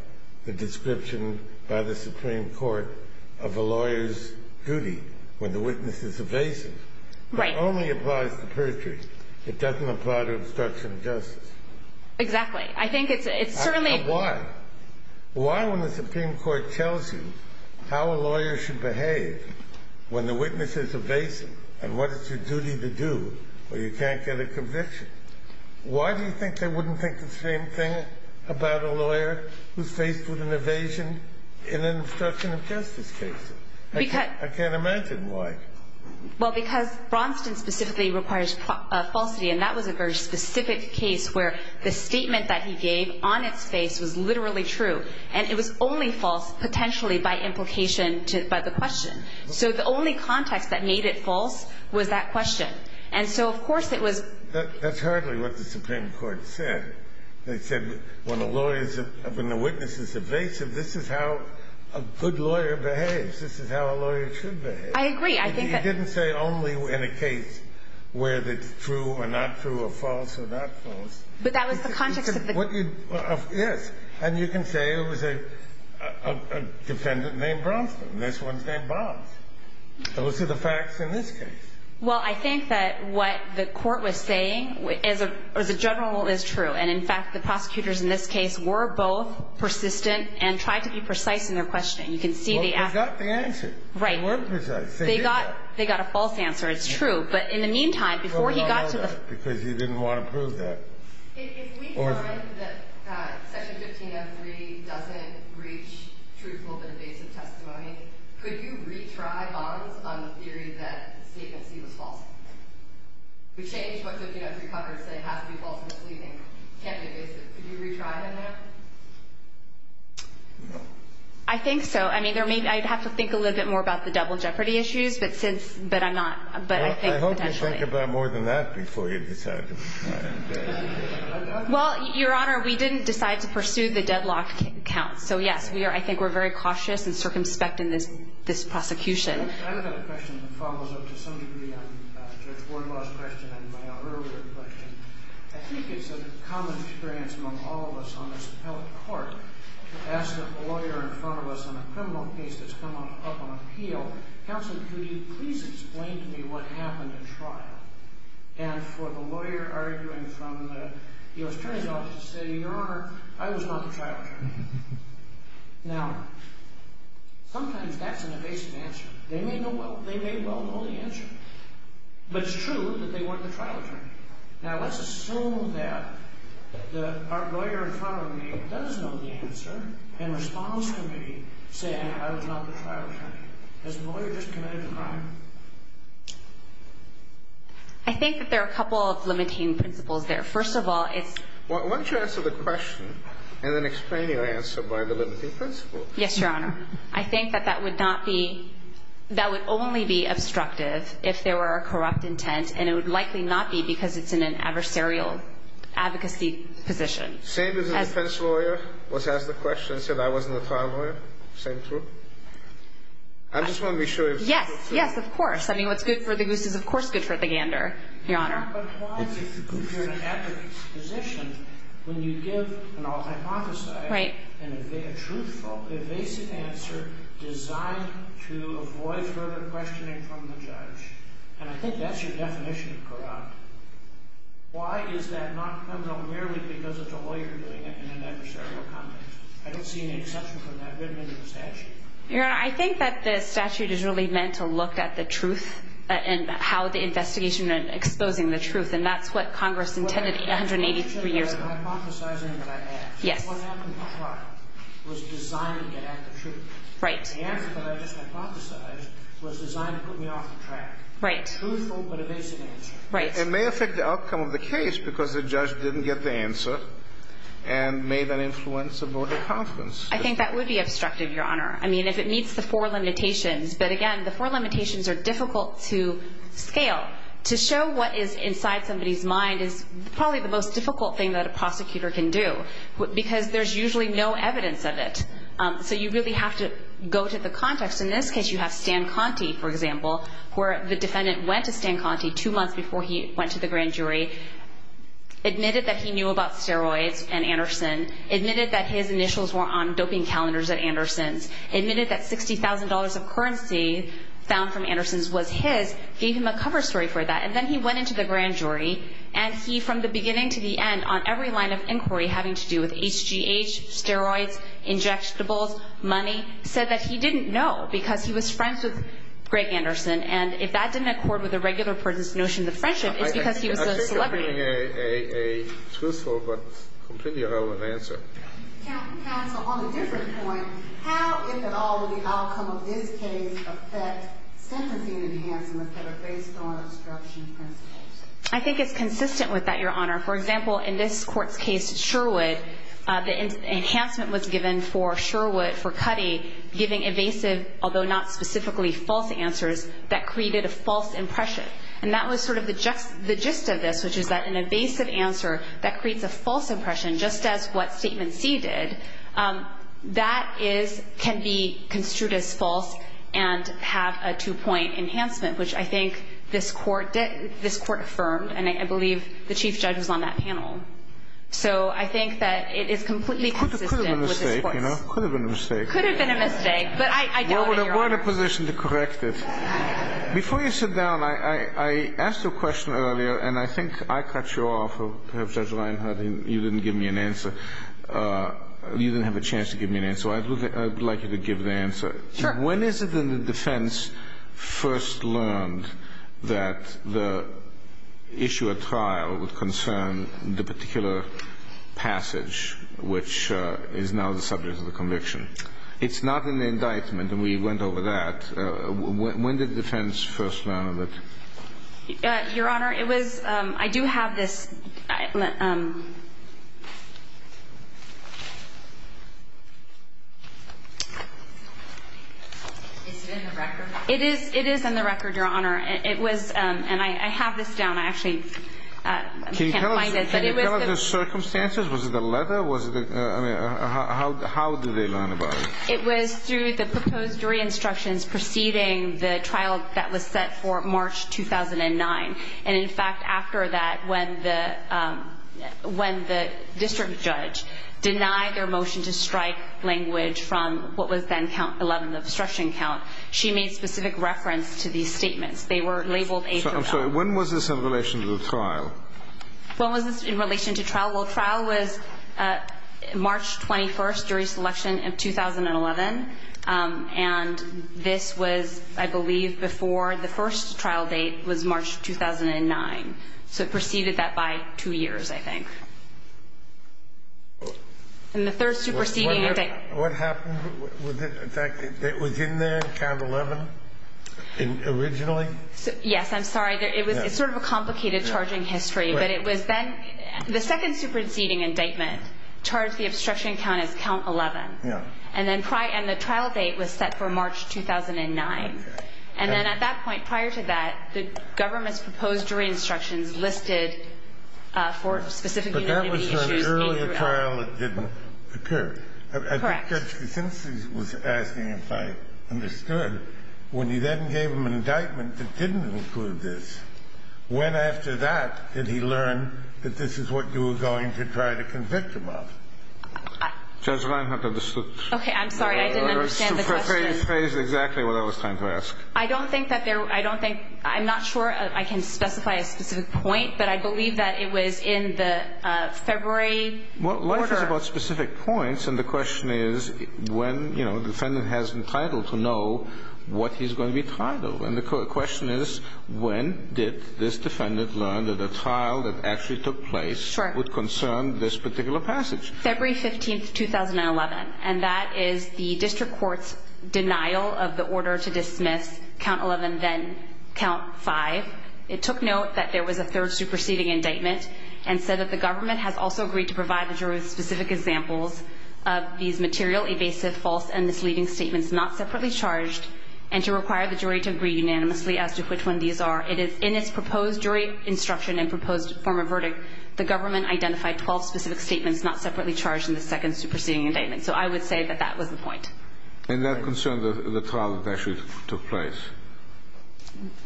the description by the Supreme Court of a lawyer's duty when the witness is evasive. Right. That only applies to perjury. It doesn't apply to obstruction of justice. Exactly. I think it's certainly – Why? Why when the Supreme Court tells you how a lawyer should behave when the witness is evasive and what is your duty to do when you can't get a conviction? Why do you think they wouldn't think the same thing about a lawyer who is faced with an evasion in an obstruction of justice case? I can't imagine why. Well, because Bronson specifically requires falsity and that was a very specific case where the statement that he gave on its face was literally true and it was only false potentially by implication to – by the question. So the only context that made it false was that question. And so, of course, it was – That's hardly what the Supreme Court said. They said when the lawyer is – when the witness is evasive, this is how a good lawyer behaves. This is how a lawyer should behave. I agree. I think that – But that was the context of the – Yes. And you can say it was a defendant named Bronson. This one's named Bob. Those are the facts in this case. Well, I think that what the court was saying as a general rule is true. And, in fact, the prosecutors in this case were both persistent and tried to be precise in their questioning. You can see the – Well, they got the answer. Right. They were precise. They did that. They got a false answer. It's true. But in the meantime, before he got to the – Because he didn't want to prove that. If we find that Section 1503 doesn't reach truthful but evasive testimony, could you retry Bonds on the theory that Statement C was false? We changed what 1503 covers saying it has to be false misleading. It can't be evasive. Could you retry him now? No. I think so. I mean, there may – I'd have to think a little bit more about the double jeopardy issues, but since – but I'm not – but I think – Well, I hope you think about more than that before you decide to retry him. Well, Your Honor, we didn't decide to pursue the deadlock count. So, yes, we are – I think we're very cautious and circumspect in this prosecution. I have a question that follows up to some degree on Judge Wardlaw's question and my earlier question. I think it's a common experience among all of us on this appellate court to ask a lawyer in front of us on a criminal case that's come up on appeal, Counsel, could you please explain to me what happened in trial? And for the lawyer arguing from the U.S. Attorney's office to say, Your Honor, I was not the trial attorney. Now, sometimes that's an evasive answer. They may well know the answer. But it's true that they weren't the trial attorney. Now, let's assume that our lawyer in front of me does know the answer and responds to me saying, I was not the trial attorney. Has the lawyer just committed a crime? I think that there are a couple of limiting principles there. First of all, it's – Why don't you answer the question and then explain your answer by the limiting principle? Yes, Your Honor. I think that that would not be – that would only be obstructive if there were a corrupt intent, and it would likely not be because it's in an adversarial advocacy position. Same as the defense lawyer was asked the question and said, I wasn't the trial lawyer. Same truth? I just want to be sure if – Yes, yes, of course. I mean, what's good for the goose is, of course, good for the gander, Your Honor. But why, if you're in an advocacy position, when you give an all-hypothesized and a truthful, evasive answer designed to avoid further questioning from the judge, and I think that's your definition of corrupt, why is that not criminal merely because it's a lawyer doing it in an adversarial context? I don't see any exception from that written into the statute. Your Honor, I think that the statute is really meant to look at the truth and how the investigation exposing the truth, and that's what Congress intended 183 years ago. Hypothesizing that I asked. Yes. What happened in the trial was designed to get at the truth. Right. The answer that I just hypothesized was designed to put me off the track. Right. Truthful but evasive answer. Right. It may affect the outcome of the case because the judge didn't get the answer and made that influence a vote of confidence. I think that would be obstructive, Your Honor. I mean, if it meets the four limitations. But again, the four limitations are difficult to scale. To show what is inside somebody's mind is probably the most difficult thing that a prosecutor can do because there's usually no evidence of it. So you really have to go to the context. In this case, you have Stan Conti, for example, where the defendant went to Stan Conti two months before he went to the grand jury, admitted that he knew about steroids and Anderson, admitted that his initials were on doping calendars at Anderson's, admitted that $60,000 of currency found from Anderson's was his, gave him a cover story for that, and then he went into the grand jury and he, from the beginning to the end, on every line of inquiry having to do with HGH, steroids, injectables, money, said that he didn't know because he was friends with Greg Anderson. And if that didn't accord with the regular person's notion of friendship, it's because he was a celebrity. I think you're bringing a truthful but completely irrelevant answer. Counsel, on a different point, how, if at all, will the outcome of this case affect sentencing enhancements that are based on obstruction principles? I think it's consistent with that, Your Honor. For example, in this court's case, Sherwood, the enhancement was given for Sherwood, for Cutty, giving evasive, although not specifically false answers that created a false impression. And that was sort of the gist of this, which is that an evasive answer that creates a false impression, just as what Statement C did, that can be construed as false and have a two-point enhancement, which I think this court affirmed, and I believe the chief judge was on that panel. So I think that it is completely consistent with this voice. It could have been a mistake. It could have been a mistake. It could have been a mistake, but I doubt it, Your Honor. We're in a position to correct this. Before you sit down, I asked a question earlier, and I think I cut you off. Perhaps Judge Reinhardt, you didn't give me an answer. You didn't have a chance to give me an answer, so I'd like you to give the answer. Sure. When is it that the defense first learned that the issue at trial would concern the particular passage, which is now the subject of the conviction? It's not in the indictment, and we went over that. When did the defense first learn of it? Your Honor, it was – I do have this. Is it in the record? It is in the record, Your Honor. It was – and I have this down. I actually can't find it. Can you tell us the circumstances? Was it a letter? I mean, how did they learn about it? It was through the proposed jury instructions preceding the trial that was set for March 2009. And, in fact, after that, when the district judge denied their motion to strike language from what was then count 11, the obstruction count, she made specific reference to these statements. They were labeled A through L. I'm sorry. When was this in relation to the trial? When was this in relation to trial? Well, trial was March 21st, jury selection of 2011. And this was, I believe, before the first trial date was March 2009. So it preceded that by two years, I think. And the third superseding – What happened? In fact, it was in there in count 11 originally? Yes, I'm sorry. It's sort of a complicated charging history. But it was then – the second superseding indictment charged the obstruction count as count 11. Yeah. And then the trial date was set for March 2009. Okay. And then at that point, prior to that, the government's proposed jury instructions listed for specific unanimity issues. But that was an earlier trial that didn't occur. Correct. I think Judge Kuczynski was asking, if I understood, when you then gave him an indictment that didn't include this, when after that did he learn that this is what you were going to try to convict him of? Judge Reinhardt understood. Okay. I'm sorry. I didn't understand the question. She phrased exactly what I was trying to ask. I don't think that there – I don't think – I'm not sure I can specify a specific point, but I believe that it was in the February order. Well, life is about specific points, and the question is when, you know, the defendant has the title to know what he's going to be tried of. And the question is, when did this defendant learn that a trial that actually took place would concern this particular passage? February 15, 2011. And that is the district court's denial of the order to dismiss Count 11, then Count 5. It took note that there was a third superseding indictment and said that the government has also agreed to provide the jury with specific examples of these material, evasive, false, and misleading statements not separately charged and to require the jury to agree unanimously as to which one these are. It is in its proposed jury instruction and proposed form of verdict, the government identified 12 specific statements not separately charged in the second superseding indictment. So I would say that that was the point. And that concerned the trial that actually took place?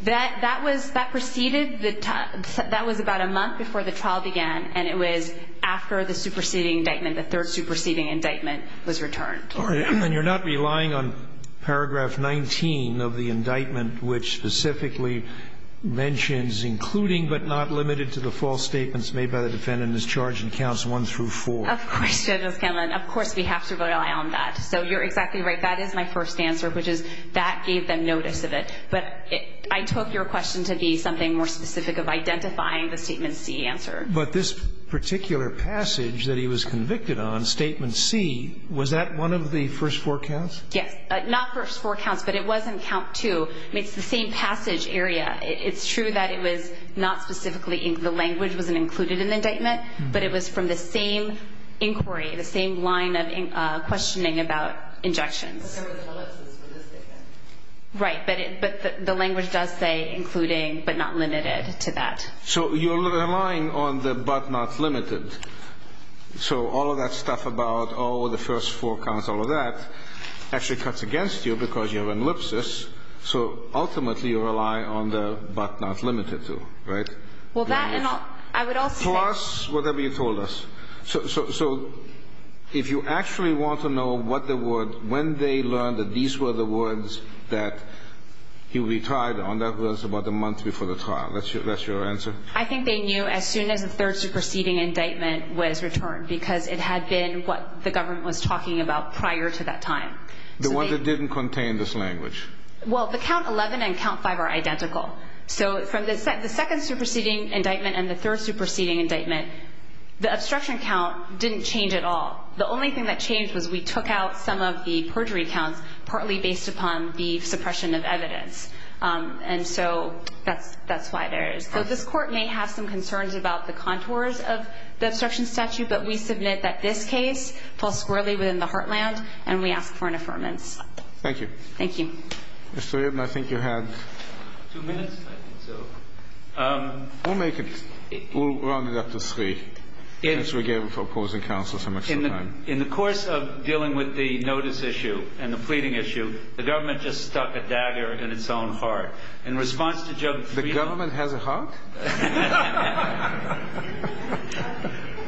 That was – that preceded – that was about a month before the trial began, and it was after the superseding indictment, the third superseding indictment, was returned. And you're not relying on Paragraph 19 of the indictment, which specifically mentions including but not limited to the false statements made by the defendant as charged in Counts 1 through 4? Of course, Judge O'Scanlan. Of course we have to rely on that. So you're exactly right. That is my first answer, which is that gave them notice of it. But I took your question to be something more specific of identifying the Statement C answer. But this particular passage that he was convicted on, Statement C, was that one of the first four counts? Yes. Not first four counts, but it was in Count 2. I mean, it's the same passage area. It's true that it was not specifically – the language wasn't included in the indictment, but it was from the same inquiry, the same line of questioning about injections. Right. But the language does say including but not limited to that. So you're relying on the but not limited. So all of that stuff about, oh, the first four counts, all of that, actually cuts against you because you have ellipsis. So ultimately you rely on the but not limited to, right? Well, that and I would also say – Plus whatever you told us. So if you actually want to know what the word – when they learned that these were the words that he retired on, that was about a month before the trial. That's your answer? I think they knew as soon as the third superseding indictment was returned because it had been what the government was talking about prior to that time. The one that didn't contain this language. Well, the Count 11 and Count 5 are identical. So from the second superseding indictment and the third superseding indictment, the obstruction count didn't change at all. The only thing that changed was we took out some of the perjury counts partly based upon the suppression of evidence. And so that's why there is. So this Court may have some concerns about the contours of the obstruction statute, but we submit that this case falls squarely within the heartland and we ask for an affirmance. Thank you. Thank you. Mr. Eden, I think you had two minutes. I think so. We'll make it. We'll round it up to three. Since we gave opposing counsel so much time. In the course of dealing with the notice issue and the pleading issue, the government just stuck a dagger in its own heart. In response to Judge Friedland. The government has a heart?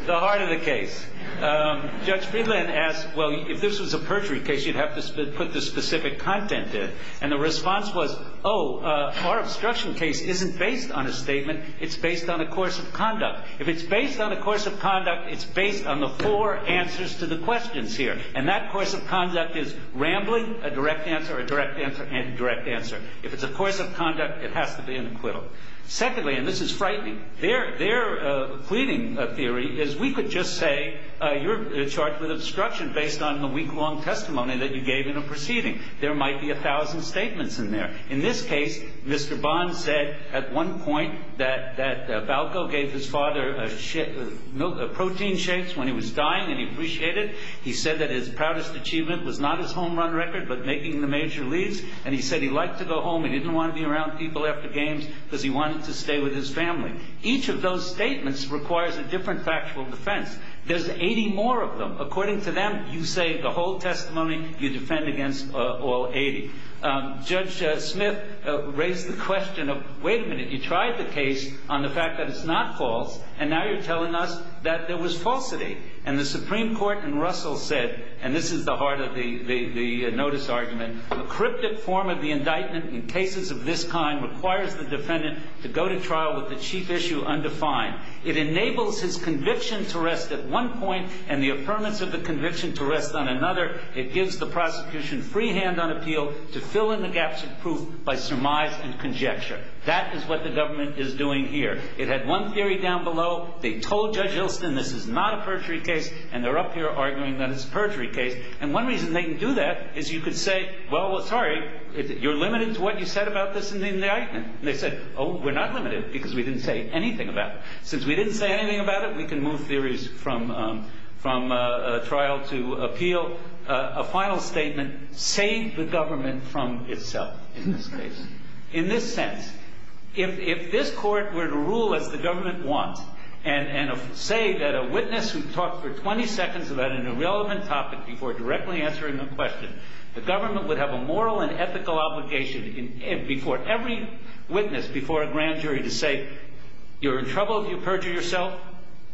The heart of the case. Judge Friedland asked, well, if this was a perjury case, you'd have to put the specific content in. And the response was, oh, our obstruction case isn't based on a statement. It's based on a course of conduct. If it's based on a course of conduct, it's based on the four answers to the questions here. And that course of conduct is rambling, a direct answer, a direct answer, and a direct answer. If it's a course of conduct, it has to be an acquittal. Secondly, and this is frightening, their pleading theory is we could just say you're charged with obstruction based on the week-long testimony that you gave in a proceeding. There might be a thousand statements in there. In this case, Mr. Bond said at one point that Balco gave his father protein shakes when he was dying and he appreciated it. He said that his proudest achievement was not his home run record but making the major leads. And he said he liked to go home. He didn't want to be around people after games because he wanted to stay with his family. Each of those statements requires a different factual defense. There's 80 more of them. According to them, you say the whole testimony, you defend against all 80. Judge Smith raised the question of, wait a minute, you tried the case on the fact that it's not false, and now you're telling us that there was falsity. And the Supreme Court in Russell said, and this is the heart of the notice argument, a cryptic form of the indictment in cases of this kind requires the defendant to go to trial with the chief issue undefined. It enables his conviction to rest at one point and the affirmance of the conviction to rest on another. It gives the prosecution free hand on appeal to fill in the gaps of proof by surmise and conjecture. That is what the government is doing here. It had one theory down below. They told Judge Ilston this is not a perjury case, and they're up here arguing that it's a perjury case. And one reason they can do that is you could say, well, sorry, you're limited to what you said about this in the indictment. And they said, oh, we're not limited because we didn't say anything about it. Since we didn't say anything about it, we can move theories from trial to appeal. A final statement saved the government from itself in this case. In this sense, if this court were to rule as the government wants and say that a witness who talked for 20 seconds about an irrelevant topic before directly answering the question, the government would have a moral and ethical obligation before every witness, before a grand jury, to say you're in trouble if you perjure yourself.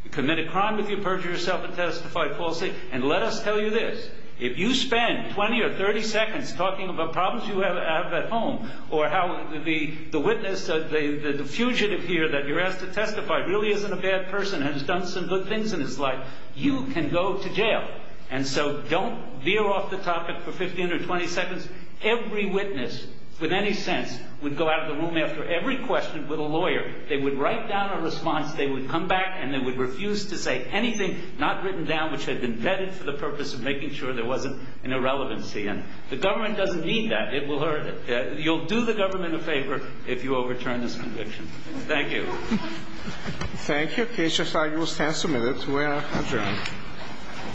You commit a crime if you perjure yourself and testify falsely. And let us tell you this, if you spend 20 or 30 seconds talking about problems you have at home or how the witness, the fugitive here that you're asked to testify really isn't a bad person and has done some good things in his life, you can go to jail. And so don't veer off the topic for 15 or 20 seconds. Every witness, with any sense, would go out of the room after every question with a lawyer. They would write down a response. They would come back, and they would refuse to say anything not written down, which had been vetted for the purpose of making sure there wasn't an irrelevancy. And the government doesn't need that. You'll do the government a favor if you overturn this conviction. Thank you. Thank you, Keisha. You will stand submitted to our adjournment.